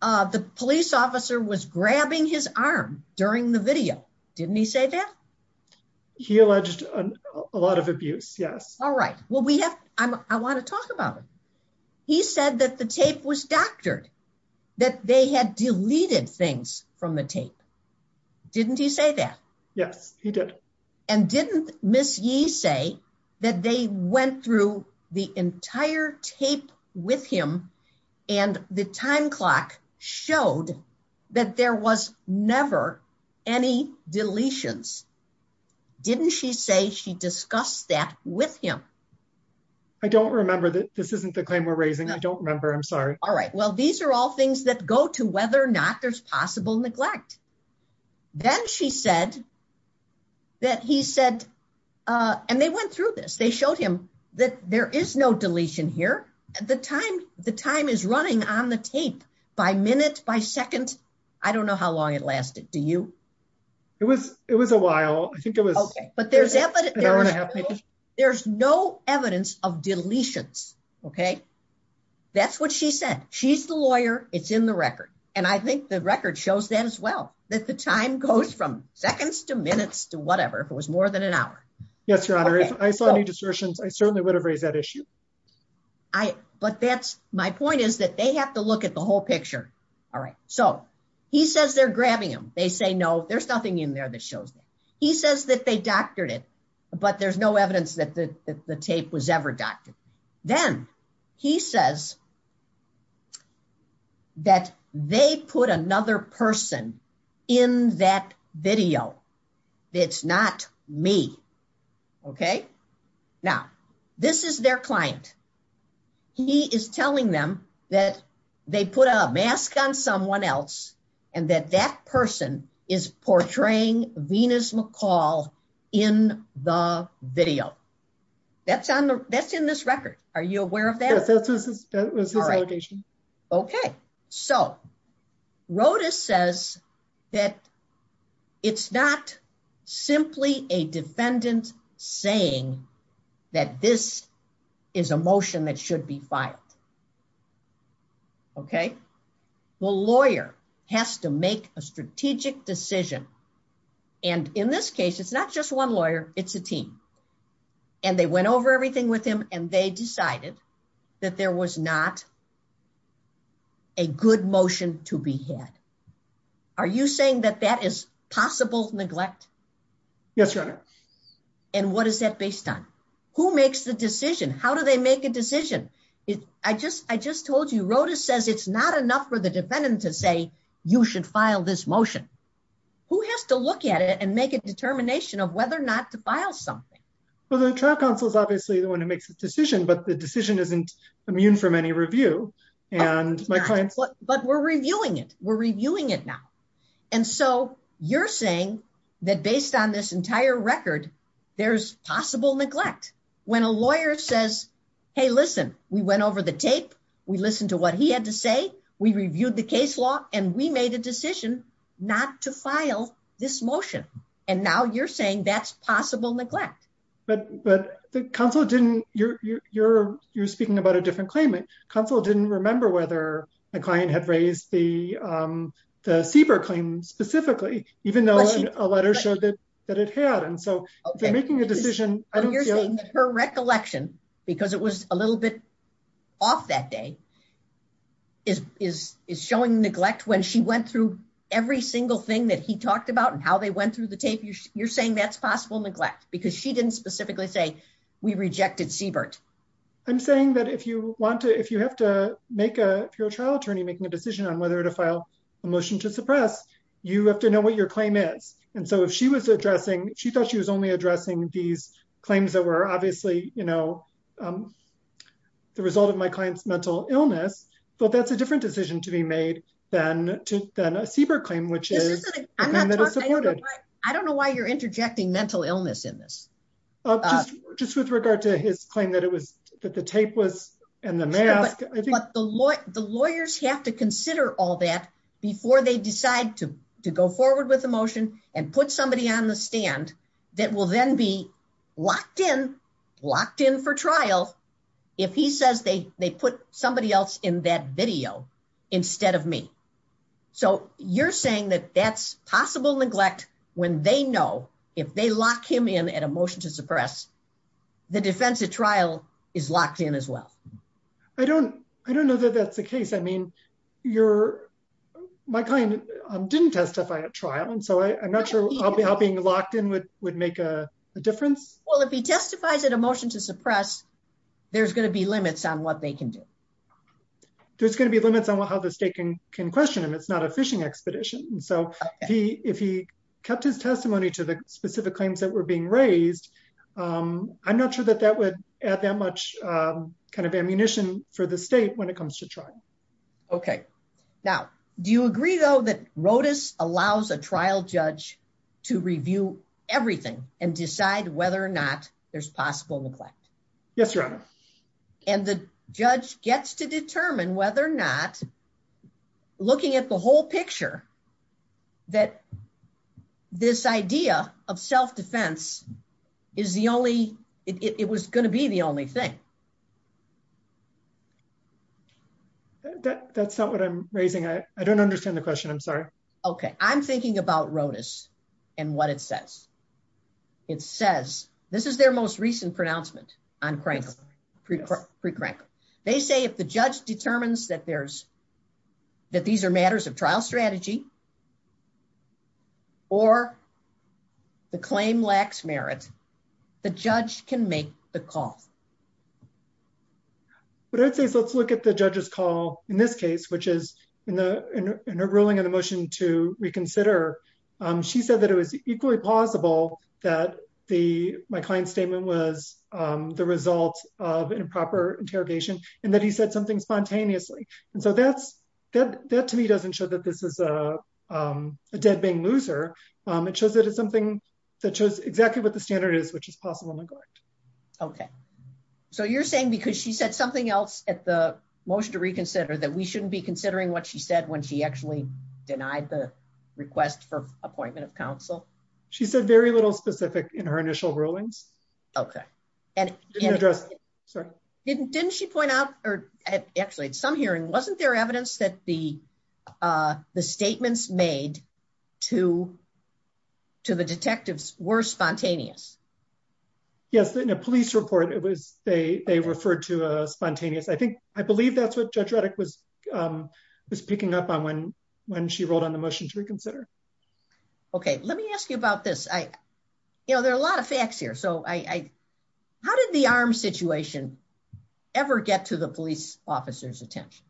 uh, the police officer was grabbing his arm during the video. Didn't he say that? He alleged a lot of abuse. Yes. All right. Well, we have, I want to talk about it. He said that the tape was doctored, that they had deleted things from the tape. Didn't he say that? Yes, he did. And didn't Ms. Yee say that they went through the entire tape with him and the time clock showed that there was never any deletions. Didn't she say she discussed that with him? I don't remember that. This isn't the claim we're raising. I don't remember. I'm sorry. All right. Well, these are all things that go to whether or not there's possible neglect. Then she said that he said, uh, and they went through this. They showed him that there is no deletion here. The time, the time is running on the tape by minutes by seconds. I don't know how long it lasted. Do you? It was, it was a while. I think it was, but there's no evidence of deletions. Okay. That's what she said. She's the lawyer. It's in the record. And I think the record shows that as well, that the time goes from seconds to minutes to whatever it was more than an hour. Yes, Your Honor. I certainly would have raised that issue. I, but that's my point is that they have to look at the whole picture. All right. So he says they're grabbing him. They say, no, there's nothing in there that shows he says that they doctored it, but there's no evidence that the tape was ever done. Then he says that they put another person in that video. It's not me. Okay. Now this is their client. He is telling them that they put a mask on someone else and that that person is portraying Venus McCall in the video. That's on the, that's in this record. Are you aware of that? Okay. So Rodas says that it's not simply a defendant saying that this is a motion that in this case, it's not just one lawyer, it's a team. And they went over everything with him and they decided that there was not a good motion to be had. Are you saying that that is possible neglect? Yes, Your Honor. And what is that based on? Who makes the decision? How do they make a decision? I just, I just told you, Rodas says it's not enough for the defendant to you should file this motion. Who has to look at it and make a determination of whether or not to file something? Well, the trial counsel is obviously the one who makes the decision, but the decision isn't immune from any review and my client. But we're reviewing it. We're reviewing it now. And so you're saying that based on this entire record, there's possible neglect when a lawyer says, Hey, listen, we went over the tape. We listened to what he had to say. We reviewed the case law and we made a decision not to file this motion. And now you're saying that's possible neglect. But, but the counsel didn't, you're, you're, you're speaking about a different claimant. Counsel didn't remember whether the client had raised the, um, the CBER claim specifically, even though a letter showed that it had. And so they're making a because it was a little bit off that day is, is, is showing neglect when she went through every single thing that he talked about and how they went through the tape. You're saying that's possible neglect because she didn't specifically say we rejected CBER. I'm saying that if you want to, if you have to make a trial attorney, making a decision on whether to file a motion to suppress, you have to know what your claim is. And so if she was addressing, she thought she was only addressing these claims that were obviously, you know, um, the result of my client's mental illness, but that's a different decision to be made than, than a CBER claim, which is. I don't know why you're interjecting mental illness in this. Just with regard to his claim that it was, that the tape was and the mask. The lawyers have to consider all that before they decide to, to go forward with the motion and put somebody on the stand that will then be locked in, locked in for trial. If he says they, they put somebody else in that video instead of me. So you're saying that that's possible neglect when they know if they locked him in at a motion to suppress, the defense of trial is locked in as well. I don't, I don't know that that's the case. I mean, you're, my client didn't testify at trial. And so I'm not sure how being locked in would, would make a difference. Well, if he testifies at a motion to suppress, there's going to be limits on what they can do. There's going to be limits on how the state can, can question him. It's not a fishing expedition. So he, if he kept his testimony to the specific claims that were being raised, um, I'm not sure that that would add that much, um, kind of ammunition for the state when it comes to trial. Okay. Now, do you agree though, that Rodas allows a trial judge to review everything and decide whether or not there's possible neglect? That's right. And the judge gets to determine whether or not looking at the whole picture, that this idea of self-defense is the only, it was going to be the only thing. Okay. That's not what I'm raising. I don't understand the question. I'm sorry. Okay. I'm thinking about Rodas and what it says. It says, this is their most recent pronouncement on Cranker, pre-Cranker. They say if the judge determines that there's, that these are matters of trial strategy or the claim lacks merit, the judge can make the call. What I'd say is let's look at the judge's call in this case, which is in the, in the ruling and the motion to reconsider. Um, she said that it was equally plausible that the, my client's statement was, um, the result of improper interrogation and that he said something spontaneously. And so that's, that, that to me doesn't show that this is a, um, a dead being loser. Um, it shows that it's something that shows exactly what the standard is, which is possible neglect. Okay. So you're saying because she said something else at the motion to reconsider that we shouldn't be considering what she said when she actually denied the request for appointment of counsel. She said very little specific in her initial rulings. Okay. And didn't, didn't she point out, or actually at some hearing, wasn't there evidence that the, uh, the statements made to, to the detectives were spontaneous. Yes. In a police report, it was, they, they referred to a spontaneous. I think, I believe that's what judge Reddick was, um, was picking up on when, when she rolled on the motion to reconsider. Okay. Let me ask you about this. I, you know, there are a lot of facts here. So I, I, how did the arm situation ever get to the police officer's attention?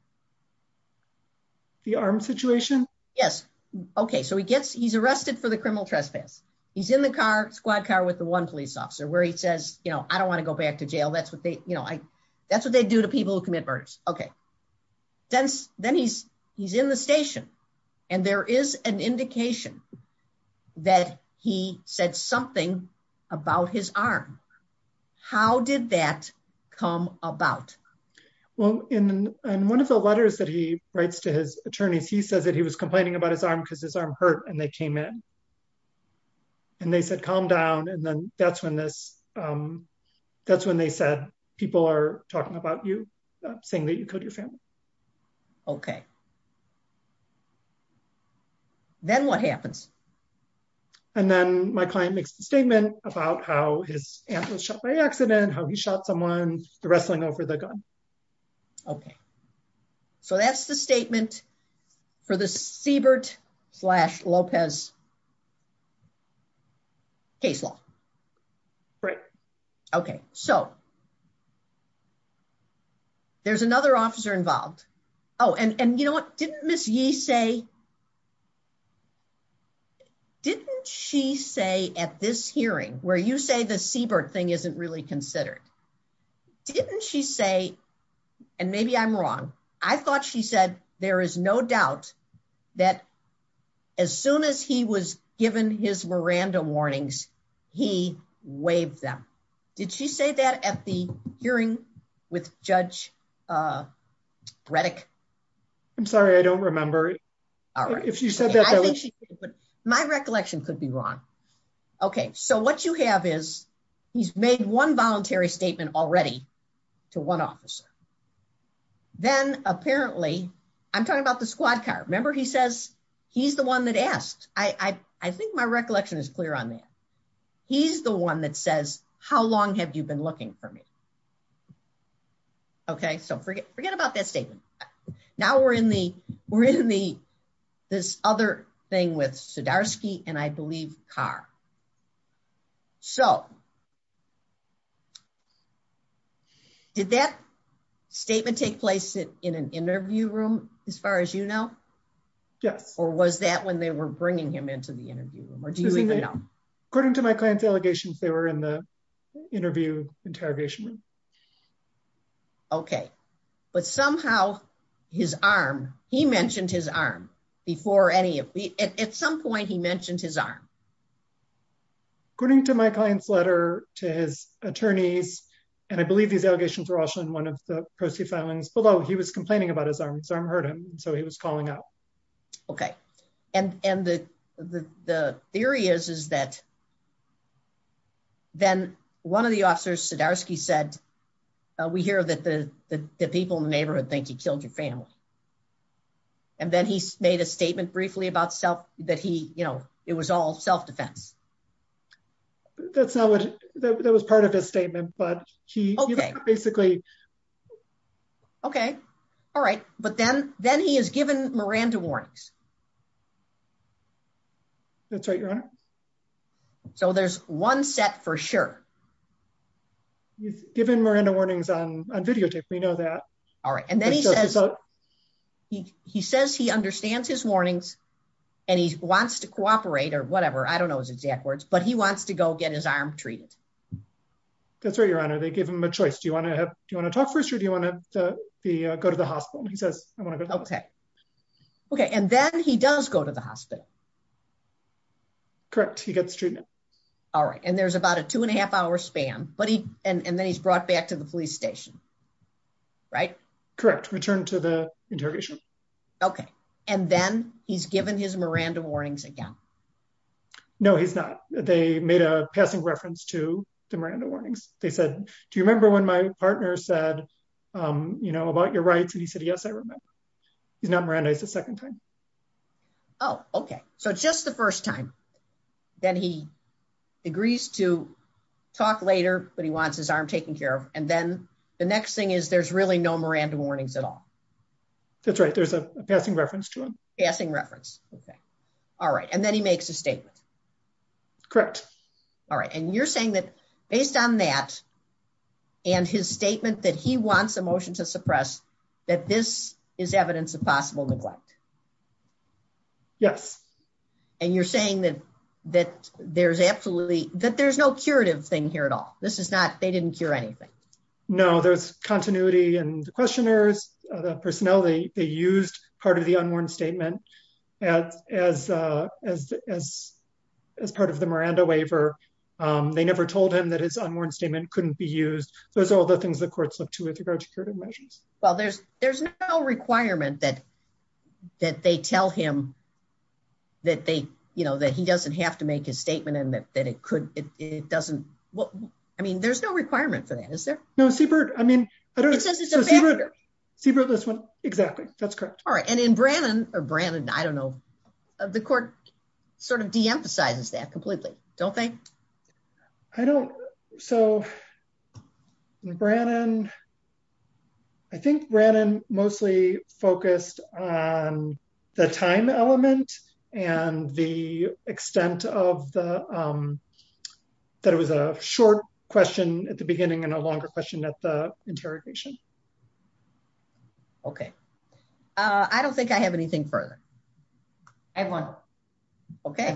The arm situation. Yes. Okay. So he gets, he's arrested for the criminal trespass. He's in the car squad car with the one police officer where he says, you know, I don't want to go back to jail. That's what they, you know, I, that's what they do to people who commit murders. Okay. Then, then he's, he's in the station and there is an indication that he said something about his arm. How did that come about? Well, in one of the letters that he writes to his attorneys, he says that he was complaining about his arm because his arm hurt and they came in and they said, calm down. And then that's when this, um, that's when they said people are talking about you saying that you put your family. Okay. Then what happens? And then my client makes a statement about how his aunt was shot by accident, how he shot someone, the wrestling over the gun. Okay. So that's the statement for the Siebert slash Lopez case law. Right. Okay. So there's another officer involved. Oh, and, and you know didn't miss you say, didn't she say at this hearing where you say the Siebert thing isn't really considered. Didn't she say, and maybe I'm wrong. I thought she said, there is no doubt that as soon as he was given his Miranda warnings, he waved them. Did she say that at the hearing with judge, uh, I'm sorry. I don't remember. All right. If you said that, my recollection could be wrong. Okay. So what you have is he's made one voluntary statement already to one officer. Then apparently I'm talking about the squad car. Remember he says, he's the one that asks. I, I, I think my recollection is clear on that. He's the one that says, how long have you been looking for me? Okay. So forget, forget about that statement. Now we're in the, we're in the, this other thing with Sudarski and I believe car. So did that statement take place in an interview room, as far as you know? Yeah. Or was that when they were bringing him into the interview room? Or do you think, according to my client's allegations, they were in the interview interrogation room. Okay. But somehow his arm, he mentioned his arm before any of the, at some point he mentioned his arm. According to my client's letter to his attorneys, and I believe these allegations were also in one of the proceedings, although he was complaining about his arm, his arm hurt him. So he was calling out. Okay. And, and the, the, the theory is, is that then one of the officers Sudarski said, we hear that the people in the neighborhood think he killed your family. And then he made a statement briefly about self that he, you know, it was all self-defense. That's not what, that was part of the statement, but he basically. Okay. All right. But then, then he has given Miranda warnings. That's right, your Honor. So there's one set for sure. Given Miranda warnings on video tapes, we know that. All right. And then he says, he, he says he understands his warnings and he wants to cooperate or whatever. I don't know his exact words, but he wants to go get his arm treated. That's right, your Honor. They gave him a choice. Do you want to have, do you want to talk first or do you want to go to the hospital? He says, I want to go. Okay. Okay. And then he does go to the hospital. Correct. He gets treatment. All right. And there's about a two and a half hour span, but he, and then he's brought back to the police station, right? Correct. Return to the interrogation. Okay. And then he's given his Miranda warnings again. No, he's not. They made a passing reference to the Miranda warnings. They said, do you remember when my partner said, you know, about your rights? He said, yes, I remember. He's not Miranda the second time. Oh, okay. So just the first time that he agrees to talk later, but he wants his arm taken care of. And then the next thing is there's really no Miranda warnings at all. That's right. There's a passing reference to him. Passing reference. All right. And then he makes a statement. Correct. All right. And you're saying that based on that and his statement that he wants a motion to suppress that this is evidence of possible neglect. Yes. And you're saying that, that there's absolutely, that there's no curative thing here at all. This is not, they didn't cure anything. No, there's continuity and questioners, the personnel, they used part of the unwarranted statement as, as, as, as part of the Miranda waiver. Um, they never told him that his unwarranted statement couldn't be used. Those are all the things that courts look to with regard to curative measures. Well, there's, there's no requirement that, that they tell him that they, you know, that he doesn't have to make his statement and that, that it could, it doesn't. Well, I mean, there's no requirement for that, is there? No, Seabrook. I mean, Seabrook this one. Exactly. That's correct. All right. And in Brannon or Brandon, I don't know the court sort of de-emphasizes that completely. Don't think I don't. So Brandon, I think Brandon mostly focused on the time element and the extent of the, um, that it was a short question at the beginning and a longer question at the interrogation. Okay. Uh, I don't think I have anything further. Edwin. Okay.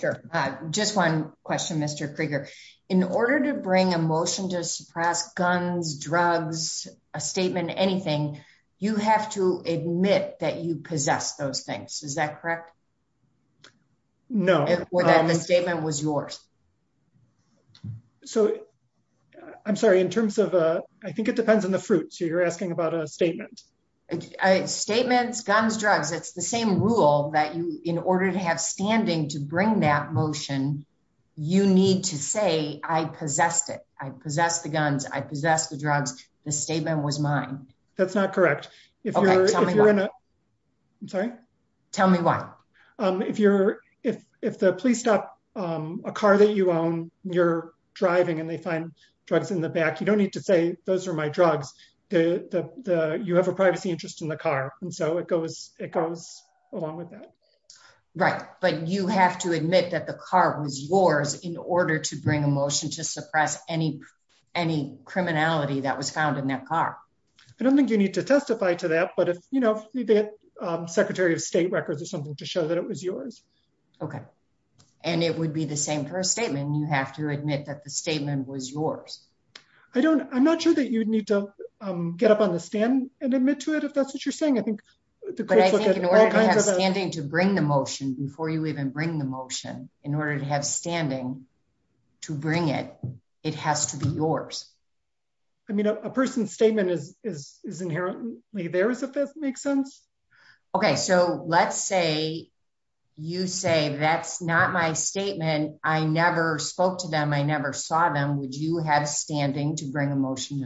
Sure. Uh, just one question, Mr. Krieger, in order to bring a motion to suppress guns, drugs, a statement, anything, you have to admit that you possess those things. Is that correct? No. The statement was yours. So I'm sorry, in terms of, uh, I think it depends on the fruit. So you're asking about a statement. Statements, guns, drugs. It's the same rule that you, in order to have standing to bring that motion, you need to say, I possess it. I possess the guns. I possess the drugs. The statement was mine. That's not correct. If you're, if you're not, I'm sorry. Tell me why. Um, if you're, if, if the police stop, um, a car that you own, you're driving and they find drugs in the back, you don't need to say those are my drugs. The, the, the, you have a privacy interest in the car. And so it goes, it goes along with that. Right. But you have to admit that the car was yours in order to bring a motion to suppress any, any criminality that was found in that car. I don't think you need to testify to that, but you know, secretary of state records or something to show that it was yours. Okay. And it would be the same for a statement. You have to admit that the statement was yours. I don't, I'm not sure that you'd need to, um, get up on the stand and admit to it, if that's what you're saying. I think to bring the motion before you even bring the motion in order to have standing to bring it, it has to be yours. I mean, a person's statement is, is inherently theirs. If that makes sense. Okay. So let's say you say that's not my statement. I never spoke to them. I never saw them. Would you have standing to bring a motion?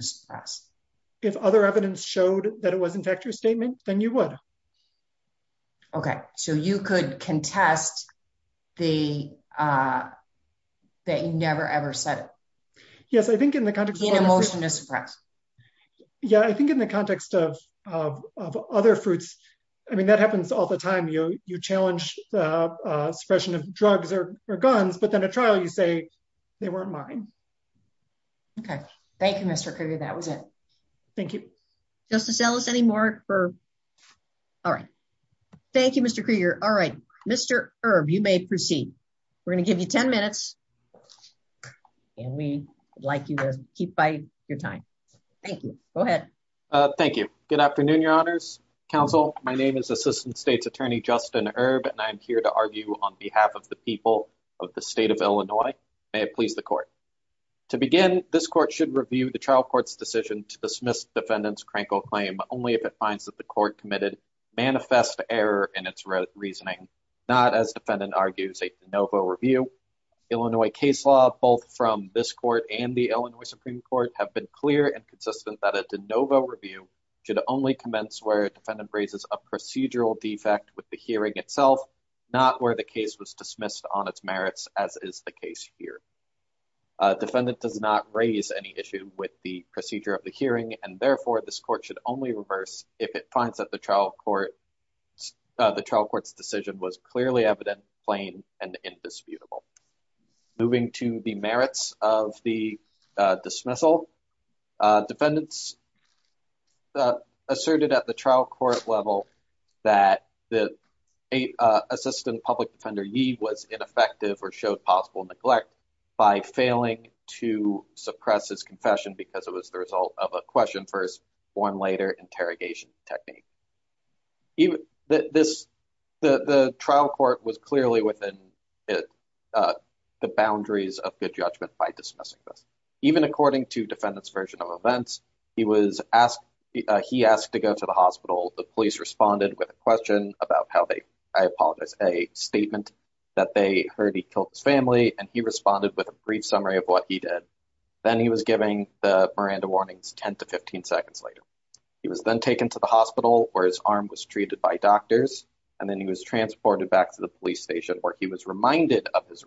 If other evidence showed that it was in fact your statement, then you would. Okay. So you could contest the, uh, that you never, ever said it. Yes. I think in the context of the motion to suppress. Yeah, I think in the context of, of, of other fruits, I mean, that happens all the time. You, you challenged the suppression of drugs or guns, but then a trial, you say they weren't mine. Okay. Thank you, Mr. Kruger. That was it. Thank you. Just to sell us any more for. All right. Thank you, Mr. Kruger. All right, Mr. Herb, you may proceed. We're going to give you 10 minutes and we'd like you to keep by your time. Thank you. Go ahead. Thank you. Good afternoon. Your honors counsel. My name is assistant state's attorney, Justin Herb, and I'm here to argue on behalf of the people of the state of Illinois. May it please the court to begin. This court should review the trial court's decision to dismiss defendant's crankle claim, but only if it finds that the court committed manifest error in its reasoning, not as defendant argues a DeNovo review. Illinois case law, both from this court and the Illinois Supreme court have been clear and consistent that a DeNovo review should only commence where a defendant raises a procedural defect with the hearing itself, not where the case was dismissed on its merits as is the case here. A defendant does not raise any issue with the procedure of the hearing. And therefore this court should only reverse if it finds that the court's decision was clearly evident, plain and indisputable. Moving to the merits of the dismissal. Defendants asserted at the trial court level that the assistant public defender was ineffective or showed possible neglect by failing to suppress his confession because it was the trial court was clearly within the boundaries of good judgment by dismissing them. Even according to defendant's version of events, he was asked, he asked to go to the hospital. The police responded with a question about how they, I apologize, a statement that they heard he killed his family and he responded with a brief summary of what he did. Then he was giving the Miranda warnings 10 to 15 seconds later. He was then taken to the hospital where his arm was treated by doctors and then he was transported back to the police station where he was reminded of his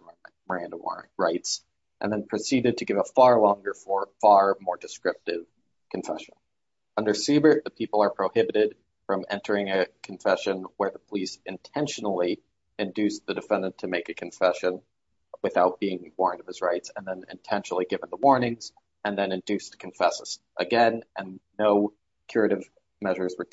Miranda rights and then proceeded to give a far longer, far more descriptive confession. Under Siebert, the people are prohibited from entering a confession where the police intentionally induced the defendant to make a confession without being warned of his rights and then intentionally given the warnings and then induced confesses again and no curative measures were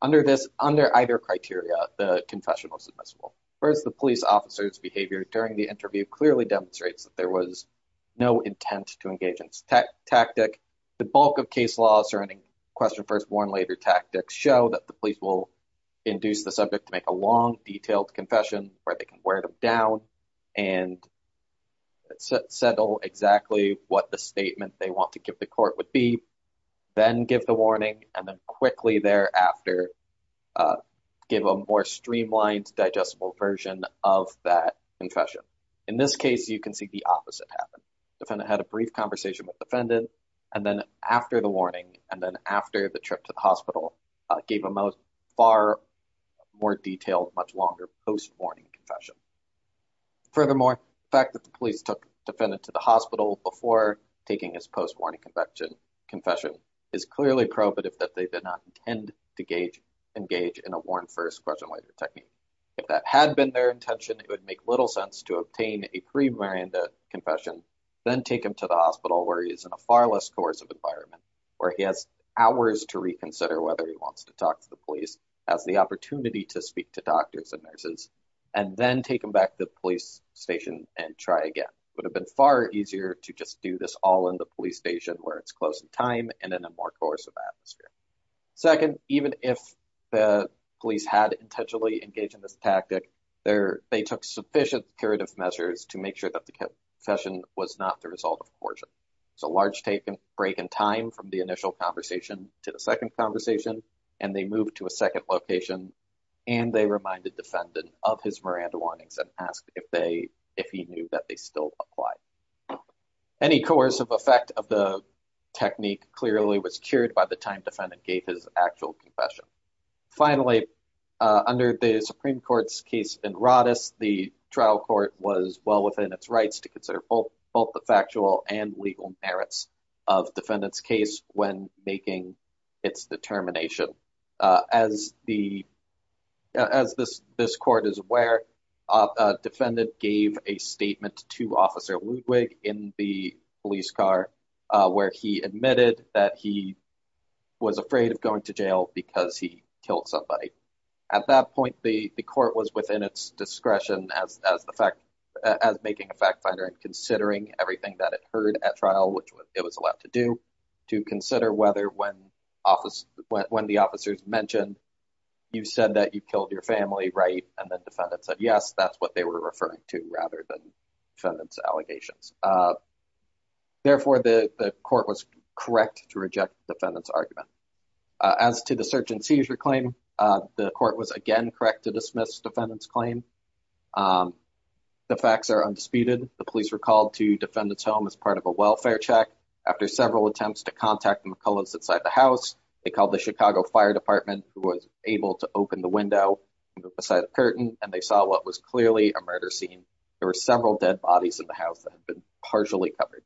under this. Under either criteria, the confession was submissible. First, the police officer's behavior during the interview clearly demonstrates that there was no intent to engage in this tactic. The bulk of case laws or any question first, warn later tactics show that the police will induce the subject to make a long detailed confession where they can wear them down and settle exactly what the statements they want to give the court would be. Then give the warning and then quickly thereafter give a more streamlined digestible version of that concussion. In this case, you can see the opposite happened. The defendant had a brief conversation with the defendant and then after the warning and then after the trip to the hospital, gave a far more detailed, much longer post-warning confession. Furthermore, the fact that the police took the defendant to the hospital before taking his post-warning confession is clearly probative that they did not intend to engage in a warn first, question later technique. If that had been their intention, it would make little sense to obtain a pre-warning confession, then take him to the hospital where he is in a far less coercive environment, where he has hours to reconsider whether he wants to talk to the police, has the opportunity to speak to doctors and nurses, and then take him back to the police station and try again. It would have been far easier to just do this all in the police station where it's close in time and in a more coercive atmosphere. Second, even if the police had intentionally engaged in this tactic, they took sufficient curative measures to make sure that the confession was not the result of coercion. It's a large take and break in time from the initial conversation to the second conversation and they moved to a second location and they reminded the defendant of his Miranda warnings and asked if he knew that they still applied. Any coercive effect of the technique clearly was cured by the time defendant gave his actual confession. Finally, under the Supreme Court's case in Rodis, the trial court was well within its rights to consider both the factual and legal merits of defendant's case when making its determination. As this court is aware, a defendant gave a statement to Officer Ludwig in the police car where he admitted that he was afraid of going to jail because he killed somebody. At that point, the court was within its discretion as making a fact finder and considering everything that it heard at trial, which it was allowed to do, to consider whether when the officers mentioned, you said that you killed your family, right? And the defendant said, yes, that's what they were referring to rather than defendant's allegations. Therefore, the court was correct to reject the defendant's argument. As to the search and seizure claim, the court was again correct to dismiss defendant's claim. The facts are undisputed. The police were called to defendant's home as part of a welfare check. After several attempts to contact McCullough's inside the house, they called the Chicago Fire Department, who was able to open the window into the side of the curtain, and they saw what was clearly a murder scene. There were several dead bodies in the house that had been partially covered.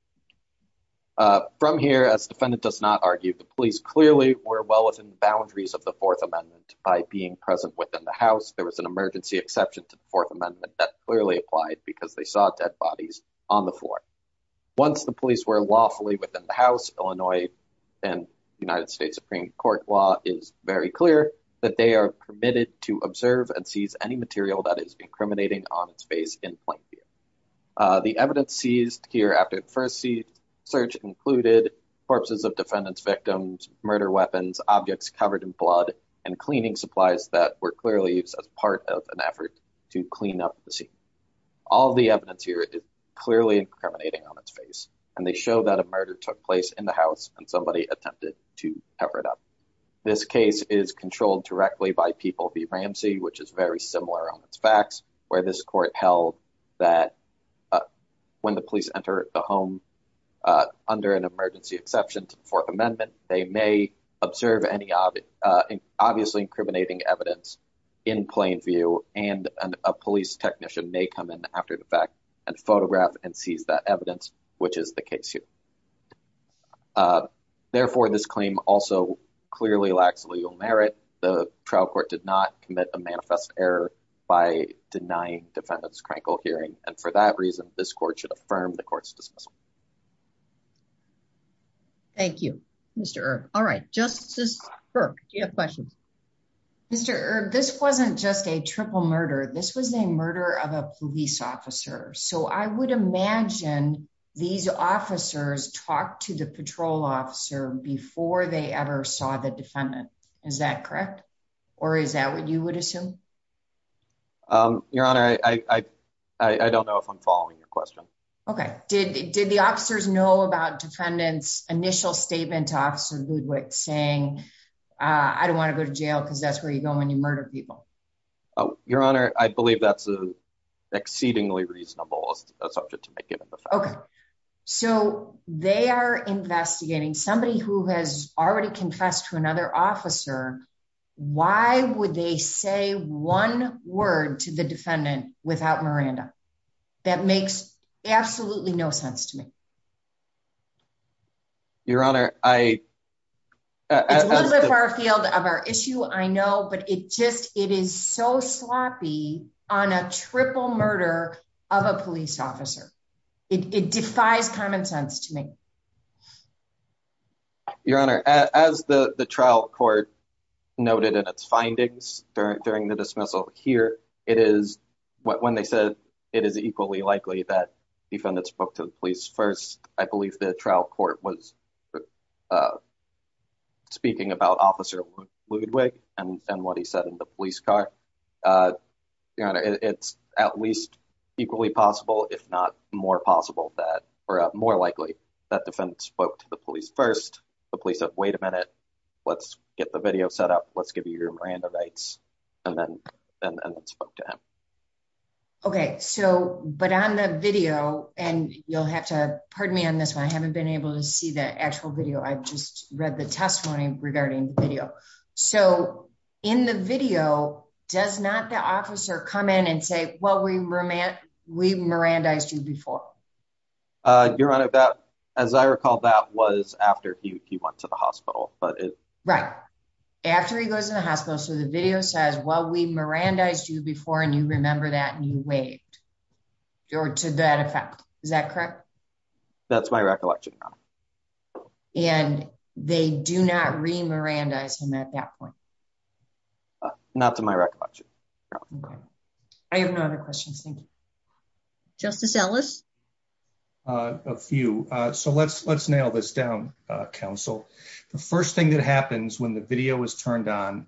From here, as the defendant does not argue, the police clearly were well within the boundaries of the Fourth Amendment by being present within the house. There was an emergency exception to the Fourth Amendment that clearly applied because they saw dead bodies on the floor. Once the police were lawfully within the house, Illinois and United States Supreme Court law is very clear that they are permitted to observe and seize any material that is incriminating on its face in plain view. The evidence seized here after the first search included corpses of defendant's victims, murder weapons, objects covered in blood, and cleaning supplies that were clearly used as part of an effort to clean up the scene. All the evidence here is clearly incriminating on its face, and they show that a murder took place in the house and somebody attempted to cover it up. This case is controlled directly by People v. Ramsey, which is very similar on its facts, where this court held that when the police enter the home under an emergency exception to the Fourth Amendment, they may observe any obviously incriminating evidence in plain view, and a police technician may come in after the fact and photograph and seize that evidence, which is the case here. Therefore, this claim also clearly lacks legal merit. The trial court did not commit a manifest error by denying defendant's crankle hearing, and for that reason, this court should affirm the court's decision. Thank you, Mr. Earp. All right, Justice Burke, do you have a question? Mr. Earp, this wasn't just a triple murder. This was a murder of a police officer, so I would imagine these officers talked to the patrol officer before they ever saw the defendant. Is that correct, or is that what you would assume? Your Honor, I don't know if I'm following your Did the officers know about defendant's initial statement to Officer Woodward saying, I don't want to go to jail because that's where you go when you murder people? Your Honor, I believe that's exceedingly reasonable. Okay, so they are investigating somebody who has already confessed to another officer. Why would they say one word to the defendant? Absolutely no sense to me. Your Honor, I... A little bit far field of our issue, I know, but it just, it is so sloppy on a triple murder of a police officer. It defies common sense to me. Your Honor, as the trial court noted in its findings during the dismissal here, it is, when they said it is equally likely that the defendant spoke to the police first, I believe the trial court was speaking about Officer Ludwig and what he said in the police car. It's at least equally possible, if not more possible that, or more likely, that defendant spoke to the police first. The police said, wait a minute, let's get the video set up. Let's give your Miranda rights and then spoke to him. Okay, so, but on the video, and you'll have to, pardon me on this one, I haven't been able to see that actual video. I've just read the testimony regarding the video. So, in the video, does not the officer come in and say, well, we Mirandized you before? Your Honor, that, as I recall, that was after he went to the hospital, but it. Right, after he goes in the hospital, so the video says, well, we Mirandized you before, and you remember that and you waved, or to that effect. Is that correct? That's my recollection, Your Honor. And they do not re-Mirandize him at that point? Not to my recollection. I have no other questions, thank you. Justice Ellis? A few. So, let's nail this down, counsel. The first thing that happens when the video is turned on,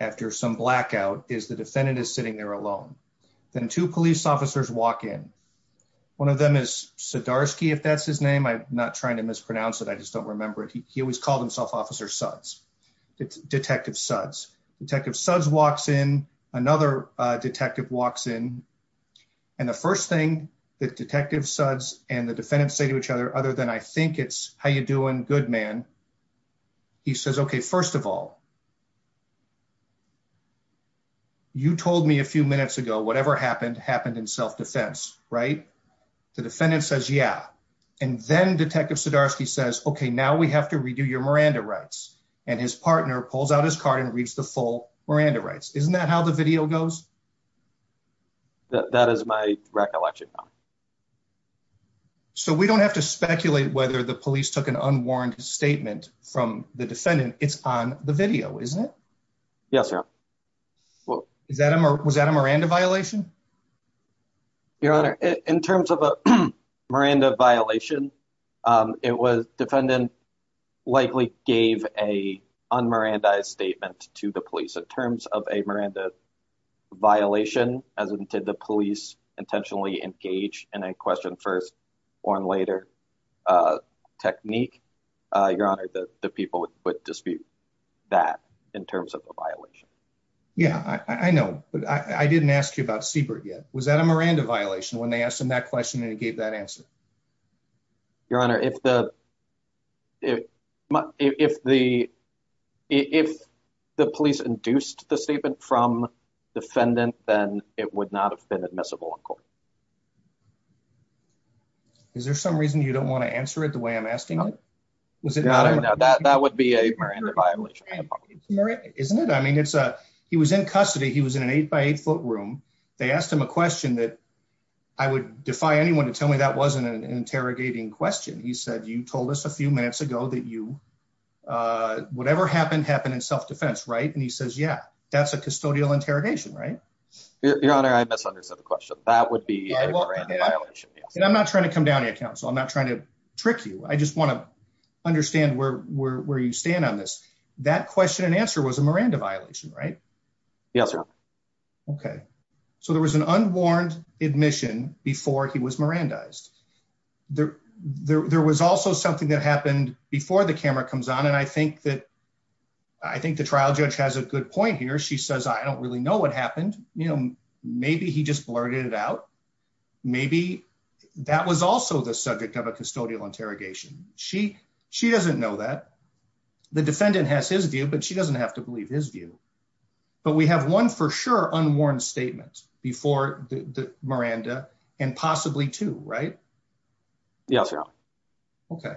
after some blackout, is the defendant is sitting there alone. Then two police officers walk in. One of them is Sadarsky, if that's his name. I'm not trying to mispronounce it. I just don't remember. He always called himself Officer Suds, Detective Suds. Detective Suds walks in, another detective walks in, and the first thing that Detective Suds and the defendant say to each other, I think it's, how you doing, good man? He says, okay, first of all, you told me a few minutes ago, whatever happened, happened in self-defense, right? The defendant says, yeah. And then Detective Sudarsky says, okay, now we have to redo your Miranda rights. And his partner pulls out his car and reads the full Miranda rights. Isn't that how the video goes? That is my recollection. So, we don't have to speculate whether the police took an unwarranted statement from the defendant. It's on the video, isn't it? Yes, sir. Was that a Miranda violation? Your Honor, in terms of a Miranda violation, it was, defendant likely gave a un-Miranda-ized statement to the police. In terms of a Miranda violation, as in, did the police intentionally engage in a question-first-or-later technique? Your Honor, the people would dispute that in terms of the violation. Yeah, I know. I didn't ask you about Siebert yet. Was that a Miranda violation when they asked him that question and he gave that answer? Your Honor, if the, if the, if the police induced the statement from the defendant, then it would not have been admissible in court. Is there some reason you don't want to answer it the way I'm asking it? That would be a Miranda violation. Isn't it? I mean, it's a, he was in custody. He was in an eight-by-eight-foot room. They asked him a question that I would defy anyone to tell me that wasn't an interrogating question. He said, you told us a few minutes ago that you, whatever happened, happened in self-defense, right? And he says, yeah, that's a custodial interrogation, right? Your Honor, I misunderstood the question. That would be a Miranda violation. And I'm not trying to come down on you, counsel. I'm not trying to trick you. I just want to understand where, where, where you stand on this. That question and answer was a Miranda violation, right? Yes, sir. Okay. So there was an unwarned admission before he was Mirandized. There, there, there was also something that happened before the camera comes on. And I think that, I think the trial judge has a good point here. She says, I don't really know what happened. You know, maybe he just blurted it out. Maybe that was also the subject of a custodial interrogation. She, she doesn't know that. The defendant has his view, but she doesn't have to believe his view, but we have one for sure unworn statement before the Miranda and possibly two, right? Yeah, sir. Okay.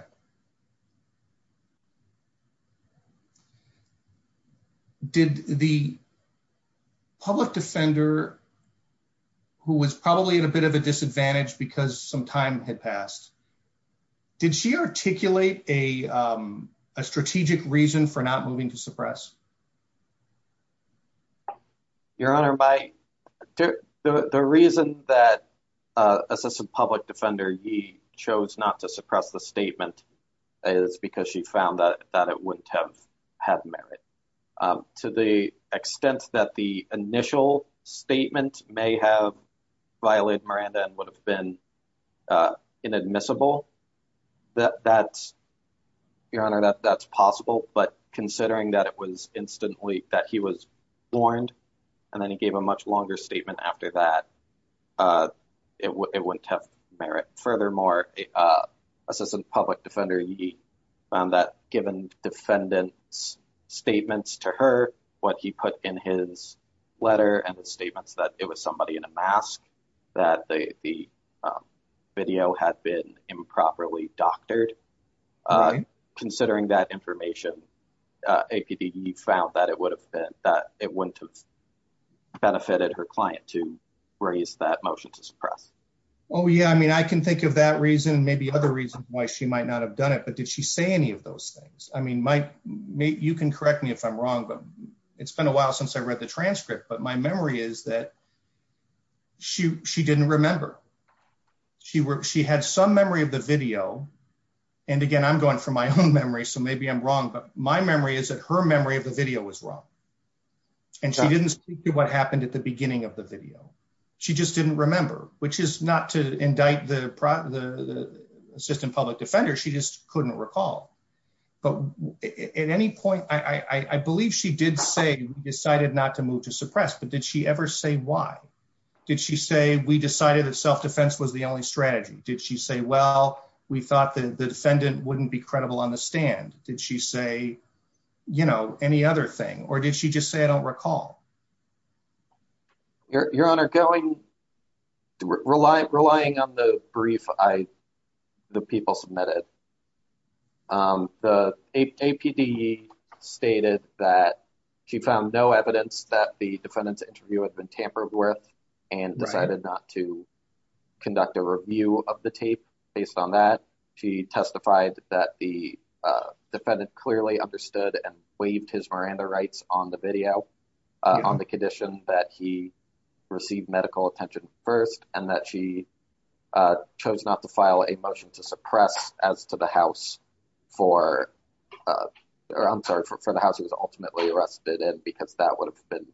Did the public defender who was probably at a bit of a disadvantage because some time had passed, did she articulate a, um, a strategic reason for not moving to suppress? Okay. Your Honor, by the, the, the reason that, uh, as a public defender, he chose not to suppress the statement is because she found that, that it wouldn't have had merit, um, to the extent that the initial statement may have violated Miranda and would have been, uh, inadmissible that that's possible, but considering that it was instantly that he was warned and then he gave a much longer statement after that, uh, it w it wouldn't have merit. Furthermore, uh, assistant public defender, he, um, that given defendant's statements to her, what he put in his letter and the statements that it was somebody in a mask that they, the, um, video had been improperly doctored, uh, considering that information, uh, APD found that it would have been that it wouldn't have benefited her client to raise that motion to suppress. Oh yeah. I mean, I can think of that reason, maybe other reasons why she might not have done it, but did she say any of those things? I mean, Mike, you can correct me if I'm wrong, but it's been a while since I read the transcript, but my memory is that she, she didn't remember she worked. She had some memory of the video. And again, I'm going from my own memory. So maybe I'm wrong, but my memory is that her memory of the video was wrong. And she didn't see what happened at the beginning of the video. She just didn't remember, which is not to indict the pro the assistant public defender. She just couldn't recall, but at any point, I believe she did say decided not to move to suppress, but did she ever say, why did she say we decided that self-defense was the only strategy? Did she say, well, we thought that the defendant wouldn't be credible on the stand. Did she say, you know, any other thing, or did she just say, I don't recall your, your honor going rely, relying on the brief. I, the people submitted the APD stated that she found no evidence that the defendant's interview has been tampered with and decided not to conduct a review of the tape based on that. She testified that the defendant clearly understood and waived his Miranda rights on the video. On the condition that he received medical attention first and that she chose not to file a motion to suppress as to the house for, I'm sorry, for the house he was ultimately arrested in because that would have been.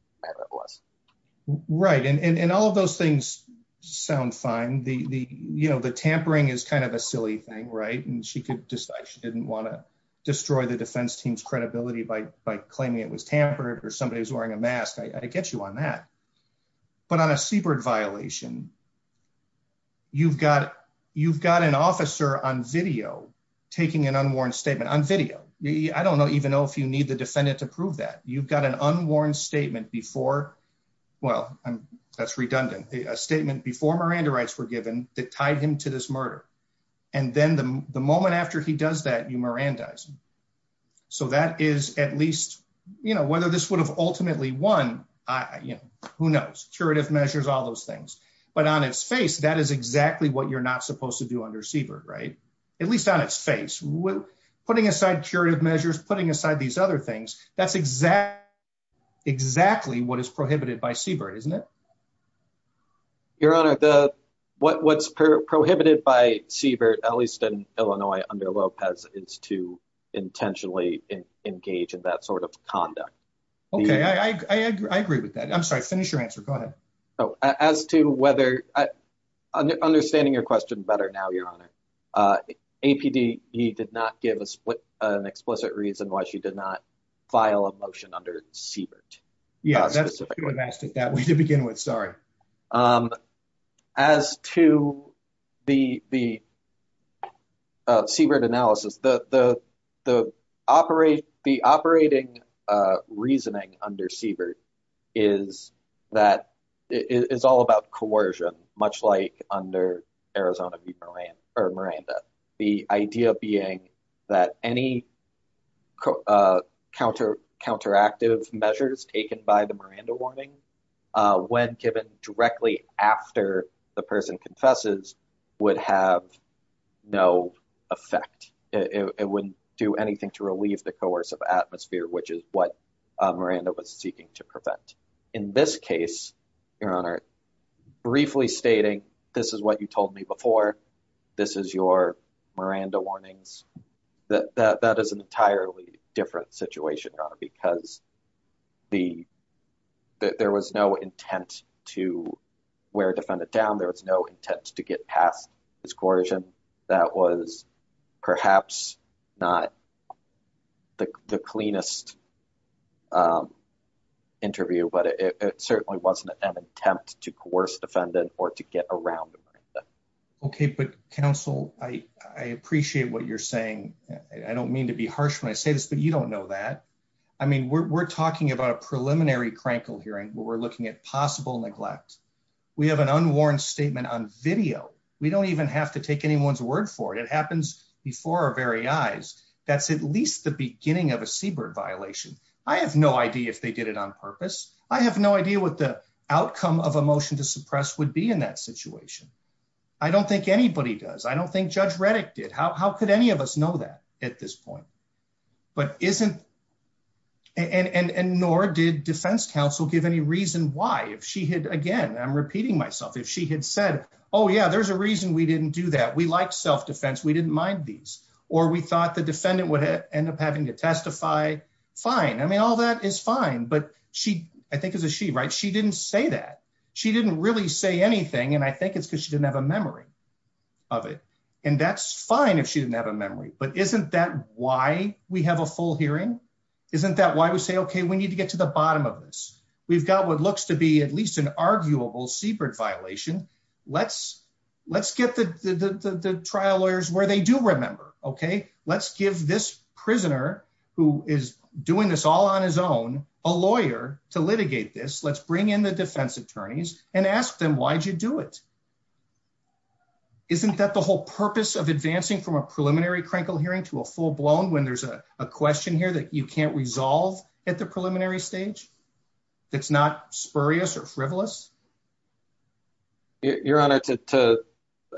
Right. And all of those things sound fine. The, the, you know, the tampering is kind of a silly thing, right. And she could decide she didn't want to destroy the defense team's credibility by, by claiming it was or somebody who's wearing a mask. I get you on that, but on a secret violation, you've got, you've got an officer on video taking an unworn statement on video. I don't even know if you need the defendant to prove that you've got an unworn statement before. Well, that's redundant. A statement before Miranda rights were given that tied him to this murder. And then the, the moment after he does that, you Miranda. So that is at least, you know, whether this would have ultimately won, I, you know, who knows curative measures, all those things, but on its face, that is exactly what you're not supposed to do under Siebert. Right. At least on its face, putting aside curative measures, putting aside these other things. That's exactly, exactly what is prohibited by Siebert. Isn't it? Your Honor, the, what, what's prohibited by Siebert, at least in Illinois under Lopez is to intentionally engage in that sort of conduct. Okay. I, I, I agree with that. I'm sorry, finish your answer. Go ahead. Oh, as to whether, understanding your question better now, your Honor APD, he did not give us an explicit reason why she did not file a motion under Siebert. Yeah, that is that we did begin with. Sorry. As to the, the Siebert analysis, the, the, the operate, the operating reasoning under Siebert is that it's all about coercion, much like under Arizona v. Moran, or Miranda. The idea being that any counter, counteractive measures taken by the Miranda warning, when given directly after the person confesses would have no effect. It wouldn't do anything to relieve the coercive atmosphere, which is what Miranda was seeking to prevent. In this case, your Honor, briefly stating this is what you told me before, this is your Miranda warnings, that, that, that is an entirely different situation, your Honor, because the, there was no intent to wear defendant down. There was no intent to get past this coercion. That was perhaps not the cleanest interview, but it certainly wasn't an attempt to coerce defendant or to get around. Okay. But counsel, I, I appreciate what you're saying. I don't mean to be harsh when I say this, but you don't know that. I mean, we're, we're talking about a preliminary crankle hearing, but we're looking at possible neglect. We have an unwarranted statement on video. We don't even have to take anyone's word for it. It happens before our very eyes. That's at least the I have no idea if they did it on purpose. I have no idea what the outcome of a motion to suppress would be in that situation. I don't think anybody does. I don't think Judge Reddick did. How, how could any of us know that at this point? But isn't, and, and, and, and nor did defense counsel give any reason why if she had, again, I'm repeating myself. If she had said, oh yeah, there's a reason we didn't do that. We like self-defense. We didn't mind these, or we thought the defendant would end up having to testify. Fine. I mean, all that is fine, but she, I think it was a she, right? She didn't say that. She didn't really say anything. And I think it's because she didn't have a memory of it. And that's fine if she didn't have a memory, but isn't that why we have a full hearing? Isn't that why we say, okay, we need to get to the bottom of this. We've got what looks to be at least an arguable secret violation. Let's, let's get the, the, trial lawyers where they do remember. Okay. Let's give this prisoner who is doing this all on his own, a lawyer to litigate this. Let's bring in the defense attorneys and ask them, why'd you do it? Isn't that the whole purpose of advancing from a preliminary crankle hearing to a full-blown when there's a question here that you can't resolve at the preliminary stage? It's not spurious or frivolous? Your Honor,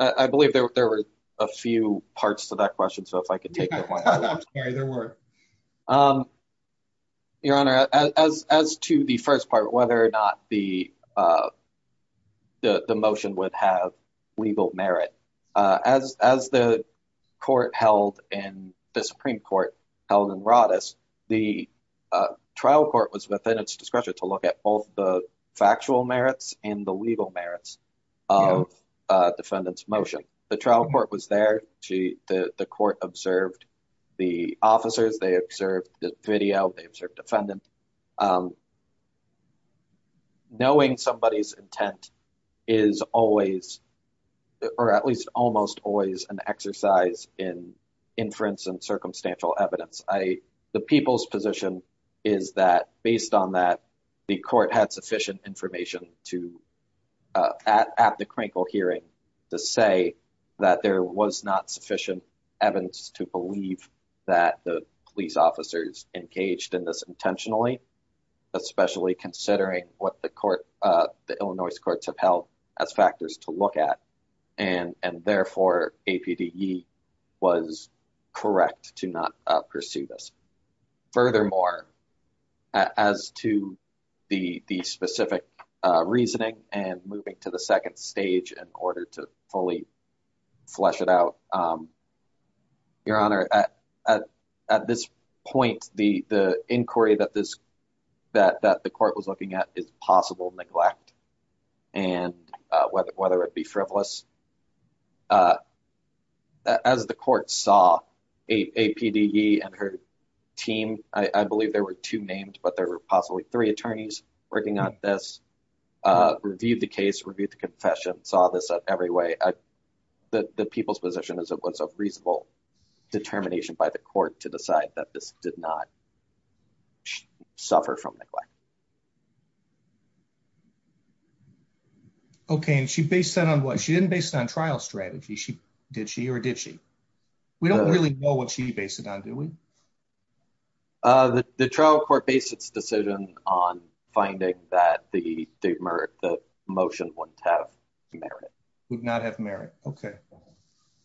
I believe there were a few parts to that question. So if I could take that one. Your Honor, as, as, as to the first part, whether or not the, the, the motion would have legal merit, as, as the court held and the Supreme court held in Roddus, the trial court was at the defendant's discretion to look at both the factual merits and the legal merits of a defendant's motion. The trial court was there to, the court observed the officers, they observed the video, they observed the defendant. Knowing somebody's intent is always, or at least almost always an exercise in inference and circumstantial evidence. I, the people's position is that based on that, the court has sufficient information to, uh, at, at the crankle hearing to say that there was not sufficient evidence to believe that the police officers engaged in this intentionally, especially considering what the court, uh, the Illinois courts have held as factors to look at and, and therefore APDE was correct to not perceive this. Furthermore, as to the, the specific, uh, reasoning and moving to the second stage in order to fully flesh it out. Your Honor, at, at, at this point, the, the inquiry that this, that, that the court was at the frivolous, uh, as the court saw APDE and her team, I believe there were two names, but there were possibly three attorneys working on this, uh, reviewed the case, reviewed the confession, saw this every way that the people's position is it was a reasonable determination by the court to decide that this did not suffer from neglect. Okay. And she based that on what she didn't based on trial strategy. She did, she, or did she, we don't really know what she based it on. Do we, uh, the trial court based its decisions on finding that the state merit, the motion wouldn't have merit. Would not have merit. Okay.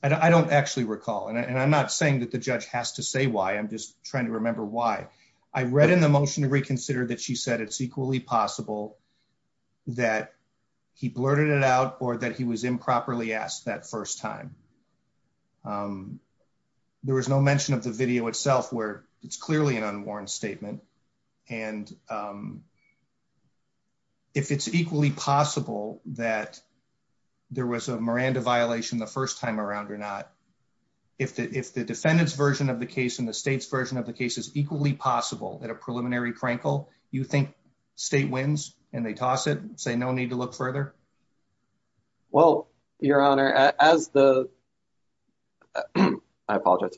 And I don't actually recall. And I'm not saying that the judge has to say why I'm just trying to remember why I read in the motion to reconsider that she said that she would not have merit. I'm just stating that the defendant said it's equally possible that he blurted it out, or that he was improperly asked that first time. Um, there was no mention of the video itself, where it's clearly an unwarranted statement. And, um, if it's equally possible that there was a Miranda violation the first time around or not, if the, if the defendant's version of the case and the state's version of the case is equally possible that a preliminary Frankel, you think state wins and they toss it and say, no need to look further. Well, your honor, as the, I apologize,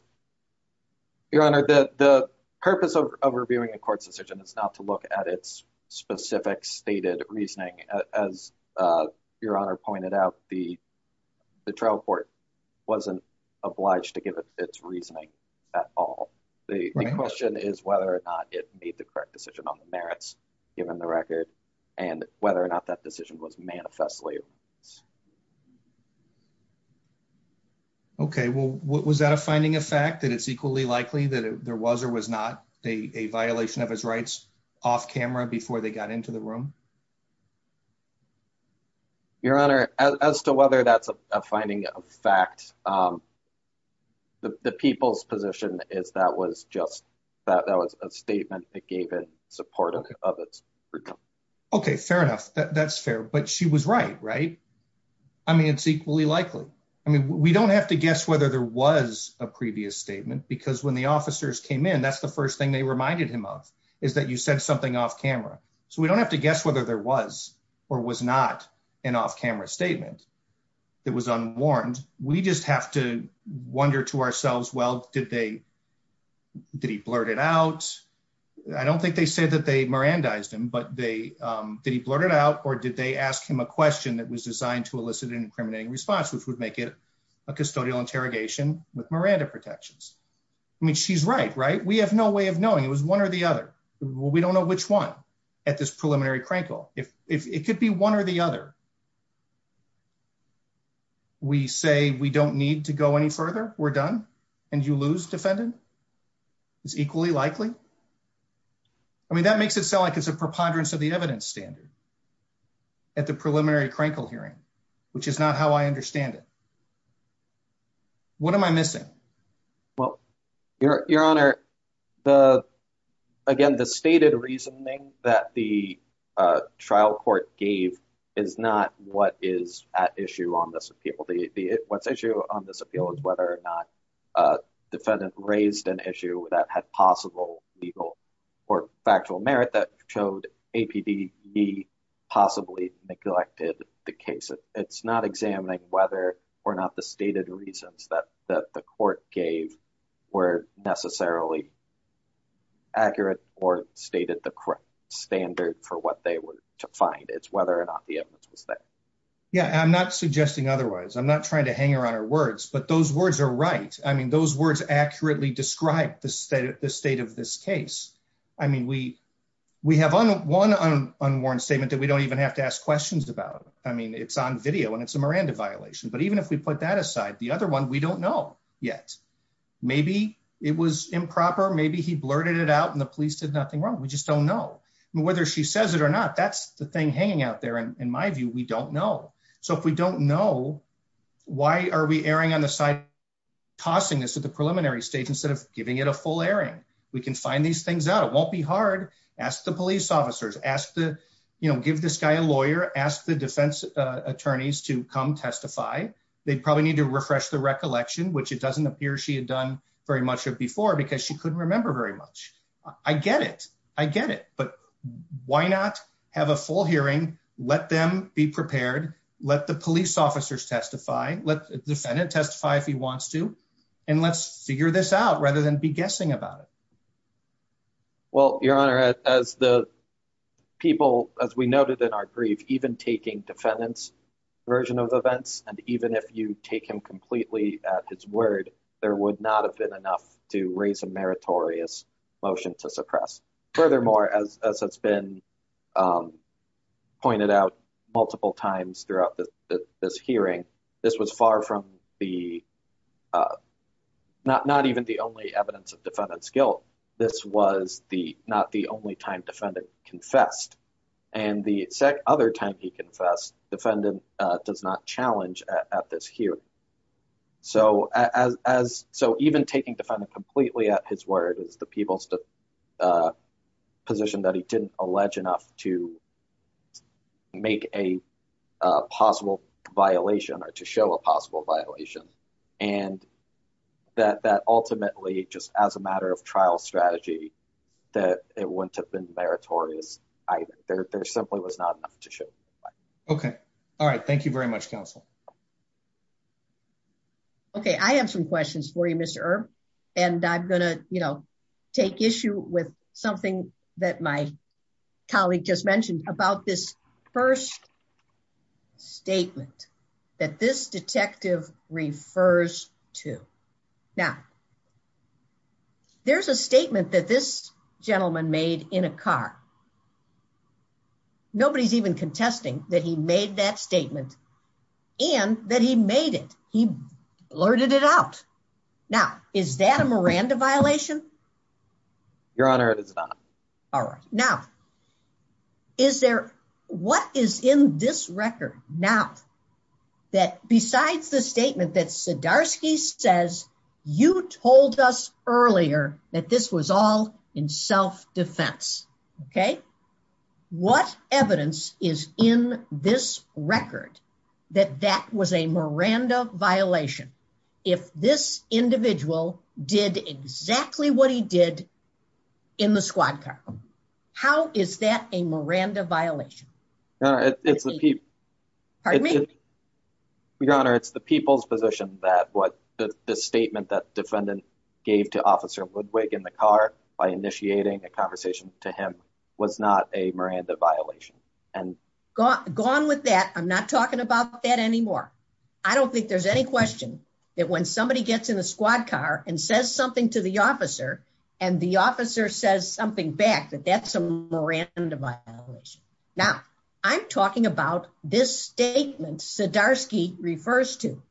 your honor, the purpose of reviewing the court's decision is not to look at its specific stated reasoning. Uh, as, uh, your honor pointed out, the, the trial court wasn't obliged to give it its reasoning at all. The question is whether or not it made the correct decision on the merits given the record and whether or not that decision was manifestly. Okay. Well, what was that a finding of fact that it's equally likely that there was, or was not a violation of his rights off camera before they got into the room? Okay. Your honor, as, as to whether that's a finding of fact, um, the, the people's position is that was just that that was a statement that gave it supportive of it. Okay. Fair enough. That's fair, but she was right, right? I mean, it's equally likely. I mean, we don't have to guess whether there was a previous statement because when the officers came in, that's the first thing they reminded him of is that you said something off camera. So we don't have to guess whether there was, or was not an off-camera statement that was unwarned. We just have to wonder to ourselves, well, did they, did he blurt it out? I don't think they said that they Mirandized him, but they, um, did he blurt it out or did they ask him a question that was designed to elicit an incriminating response, which would make it a custodial interrogation with Miranda protections. I mean, she's right, right? We have no way of knowing it was one or the other. We don't know which one at this preliminary crankle. If it could be one or the other, we say we don't need to go any further. We're done. And you lose defendant is equally likely. I mean, that makes it sound like it's a preponderance of the evidence standard at the preliminary crankle hearing, which is not how I understand it. What am I missing? Well, your, your honor, the, again, the stated reasoning that the trial court gave is not what is at issue on this appeal. The issue on this appeal is whether or not a defendant raised an issue that had possible legal or factual merit that showed APDE possibly neglected the case. It's not examining whether or not the stated reasons that the court gave were necessarily accurate or stated the correct standard for what they were to find. It's whether or not the evidence was there. Yeah. I'm not suggesting otherwise. I'm not trying to hang around our words, but those words are right. I mean, those words accurately describe the state of this case. I mean, we, we have one, one unworn statement that we don't even have to ask questions about. I mean, it's on video and it's a Miranda violation, but even if we put that aside, the other one, we don't know yet. Maybe it was improper. Maybe he blurted it out and the police did nothing wrong. We just don't know whether she says it or not. That's the thing hanging out there. And in my view, we don't know. So if we don't know, why are we erring on the side, tossing this preliminary state, instead of giving it a full area, we can find these things out. It won't be hard. Ask the police officers, ask the, you know, give this guy a lawyer, ask the defense attorneys to come testify. They'd probably need to refresh the recollection, which it doesn't appear she had done very much of before because she couldn't remember very much. I get it. I get it. But why not have a full hearing? Let them be prepared. Let the police officers testify. Let the defendant testify if he wants to, and let's figure this out rather than be guessing about it. Well, your Honor, as the people, as we noted in our brief, even taking defendant's version of events, and even if you take him completely at his word, there would not have been enough to raise a meritorious motion to suppress. Furthermore, as has been pointed out multiple times throughout this hearing, this was far from the, not even the only evidence of defendant's guilt. This was not the only time defendant confessed. And the other time he confessed, defendant does not challenge at this hearing. So even taking defendant completely at his word, the people's position that he didn't allege enough to make a possible violation or to show a possible violation, and that ultimately, just as a matter of trial strategy, that it wouldn't have been meritorious either. There simply was not enough to show. Okay. All right. Thank you very much, counsel. Okay. I have some questions for you, Mr. Erb, and I'm going to take issue with something that my colleague just mentioned about this first statement that this detective refers to. Now, there's a statement that this gentleman made in a car. Nobody's even contesting that he made that statement and that he made it. He blurted it out. Now, is that a Miranda violation? Your Honor, it is not. All right. Now, is there, what is in this record now that besides the statement that Sadarsky says, you told us earlier that this was all in what evidence is in this record that that was a Miranda violation if this individual did exactly what he did in the squad car? How is that a Miranda violation? Your Honor, it's the people's position that what the statement that defendant gave to Officer Woodwick in the car by initiating a conversation to him was not a Miranda violation. Gone with that. I'm not talking about that anymore. I don't think there's any question that when somebody gets in the squad car and says something to the officer and the officer says something back that that's a Miranda violation. Now, I'm talking about this statement Sadarsky refers to.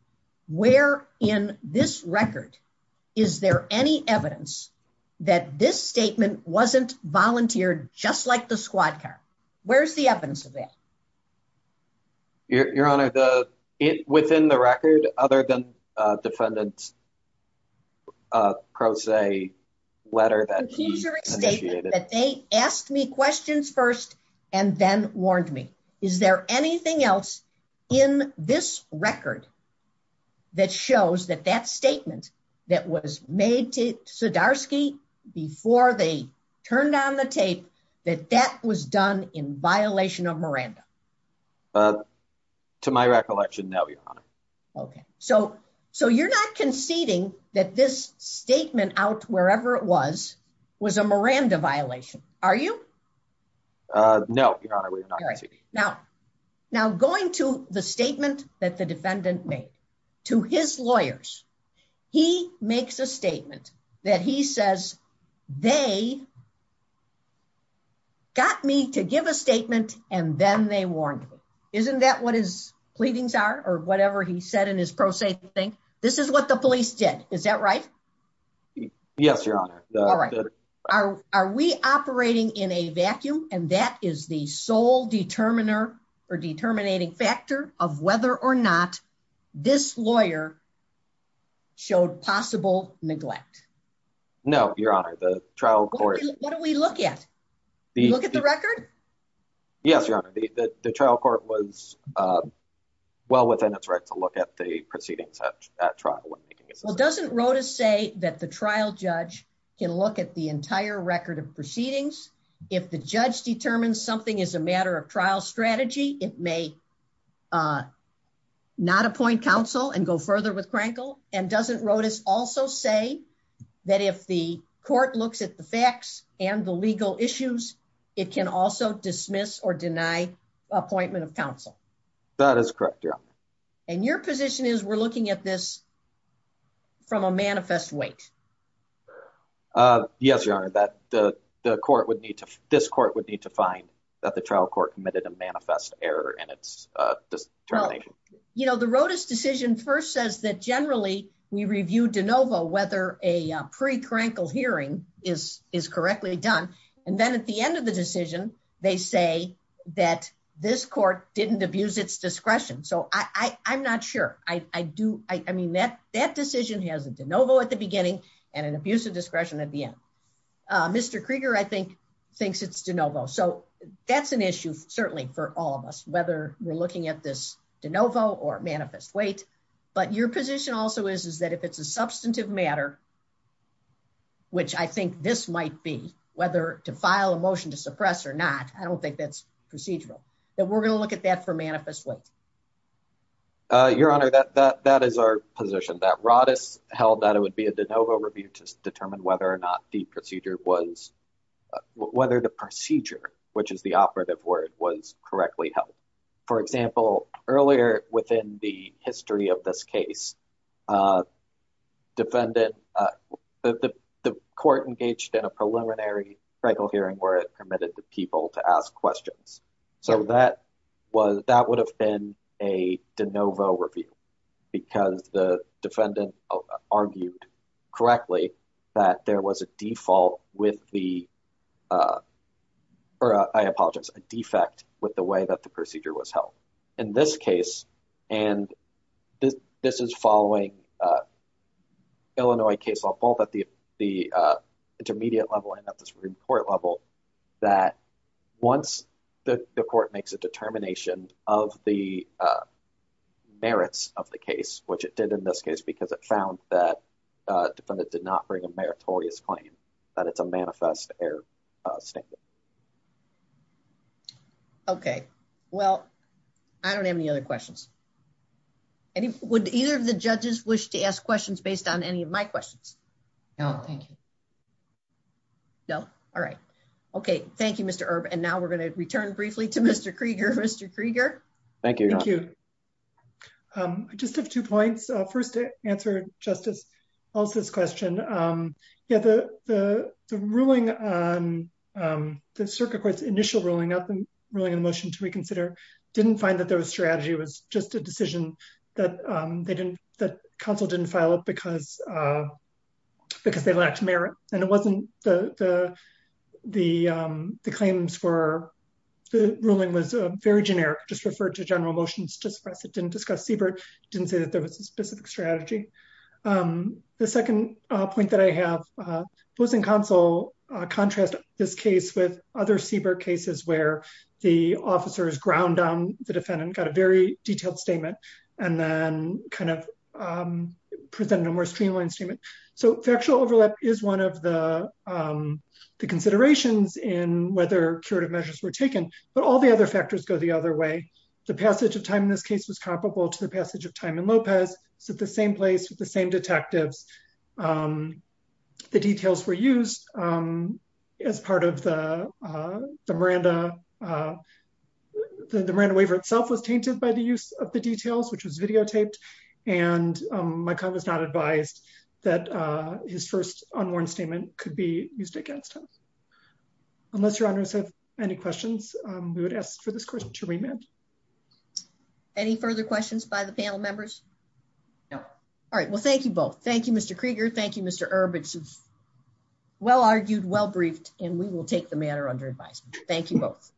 Where in this record is there any evidence that this statement wasn't volunteered just like the squad car? Where's the evidence of this? Your Honor, within the record other than defendant's pro se letter that he initiated. The teacher stated that they asked me questions first and then warned me. Is there anything else in this record that shows that that statement that was made to Sadarsky before they turned on the tape that that was done in violation of Miranda? To my recollection, no, Your Honor. Okay, so you're not conceding that this statement out wherever it was was a Miranda violation, are you? No, Your Honor. Now, going to the statement that the defendant made to his lawyers, he makes a statement that he says they got me to give a statement and then they warned me. Isn't that what his pleadings are or whatever he said in his pro se thing? This is what the in a vacuum and that is the sole determiner or determining factor of whether or not this lawyer showed possible neglect. No, Your Honor, the trial court. What do we look at? Look at the record? Yes, Your Honor. The trial court was well within its right to look at the proceedings of that trial. Well, doesn't Rodas say that the trial judge can look at the entire record of proceedings if the judge determines something is a matter of trial strategy, it may not appoint counsel and go further with Krenkel? And doesn't Rodas also say that if the court looks at the facts and the legal issues, it can also dismiss or deny appointment of counsel? That is correct, Your Honor. And your position is we're looking at this from a manifest weight? Yes, Your Honor, that the court would need to, this court would need to find that the trial court committed a manifest error in its determination. You know, the Rodas decision first says that generally we review de novo whether a pre-Krenkel hearing is correctly done. And then at the end of the decision, they say that this court didn't abuse its discretion. So I'm not sure. I do, I mean, that decision has a de novo at the beginning and an abuse of discretion at the end. Mr. Krieger, I think thinks it's de novo. So that's an issue certainly for all of us, whether we're looking at this de novo or manifest weight, but your position also is, is that if it's a substantive matter, which I think this might be, whether to file a motion to suppress or not, I don't think that's procedural that we're going to look at that for manifest weight. Your Honor, that, that, that is our position that Rodas held that it would be de novo review to determine whether or not the procedure was, whether the procedure, which is the operative word was correctly held. For example, earlier within the history of this case, defendant, the court engaged in a preliminary Krenkel hearing where it permitted the people to ask questions. So that was, that would have been a de novo review because the defendant argued correctly that there was a default with the, or I apologize, a defect with the way that the procedure was held in this case. And this is following Illinois case law, both at the, the intermediate level and at the Supreme Court level that once the court makes a determination of the merits of the case, which it did in this case, because it found that a defendant did not bring a meritorious claim that it's a manifest error statement. Okay. Well, I don't have any other questions. Would either of the judges wish to ask questions based on any of my questions? No, thank you. No. All right. Okay. Thank you, Mr. Erb. And now we're going to return briefly to Mr. Krieger. Thank you. Thank you. I just have two points. First, to answer Justice Altsch's question, yeah, the ruling, the circuit court's initial ruling, not the ruling in the motion to reconsider, didn't find that there was strategy. It was just a decision that they didn't, that counsel didn't file it because they lacked merit. And it wasn't the claims for, the ruling was very generic, just referred to general motions, didn't discuss Siebert, didn't say that there was a specific strategy. The second point that I have, both in counsel contrast this case with other Siebert cases where the officers ground down the defendant, got a very detailed statement, and then kind of presented a more streamlined statement. So factual overlap is one of the considerations in whether measures were taken, but all the other factors go the other way. The passage of time in this case was comparable to the passage of time in Lopez. It's at the same place with the same detectives. The details were used as part of the Miranda, the Miranda waiver itself was tainted by the use of the details, which was videotaped. And my client was not advised that his first statement could be used against him. Unless your honors have any questions, we would ask for this question to remain. Any further questions by the panel members? No. All right. Well, thank you both. Thank you, Mr. Krieger. Thank you, Mr. Erb. It's well-argued, well-briefed, and we will take the matter under advice. Thank you both.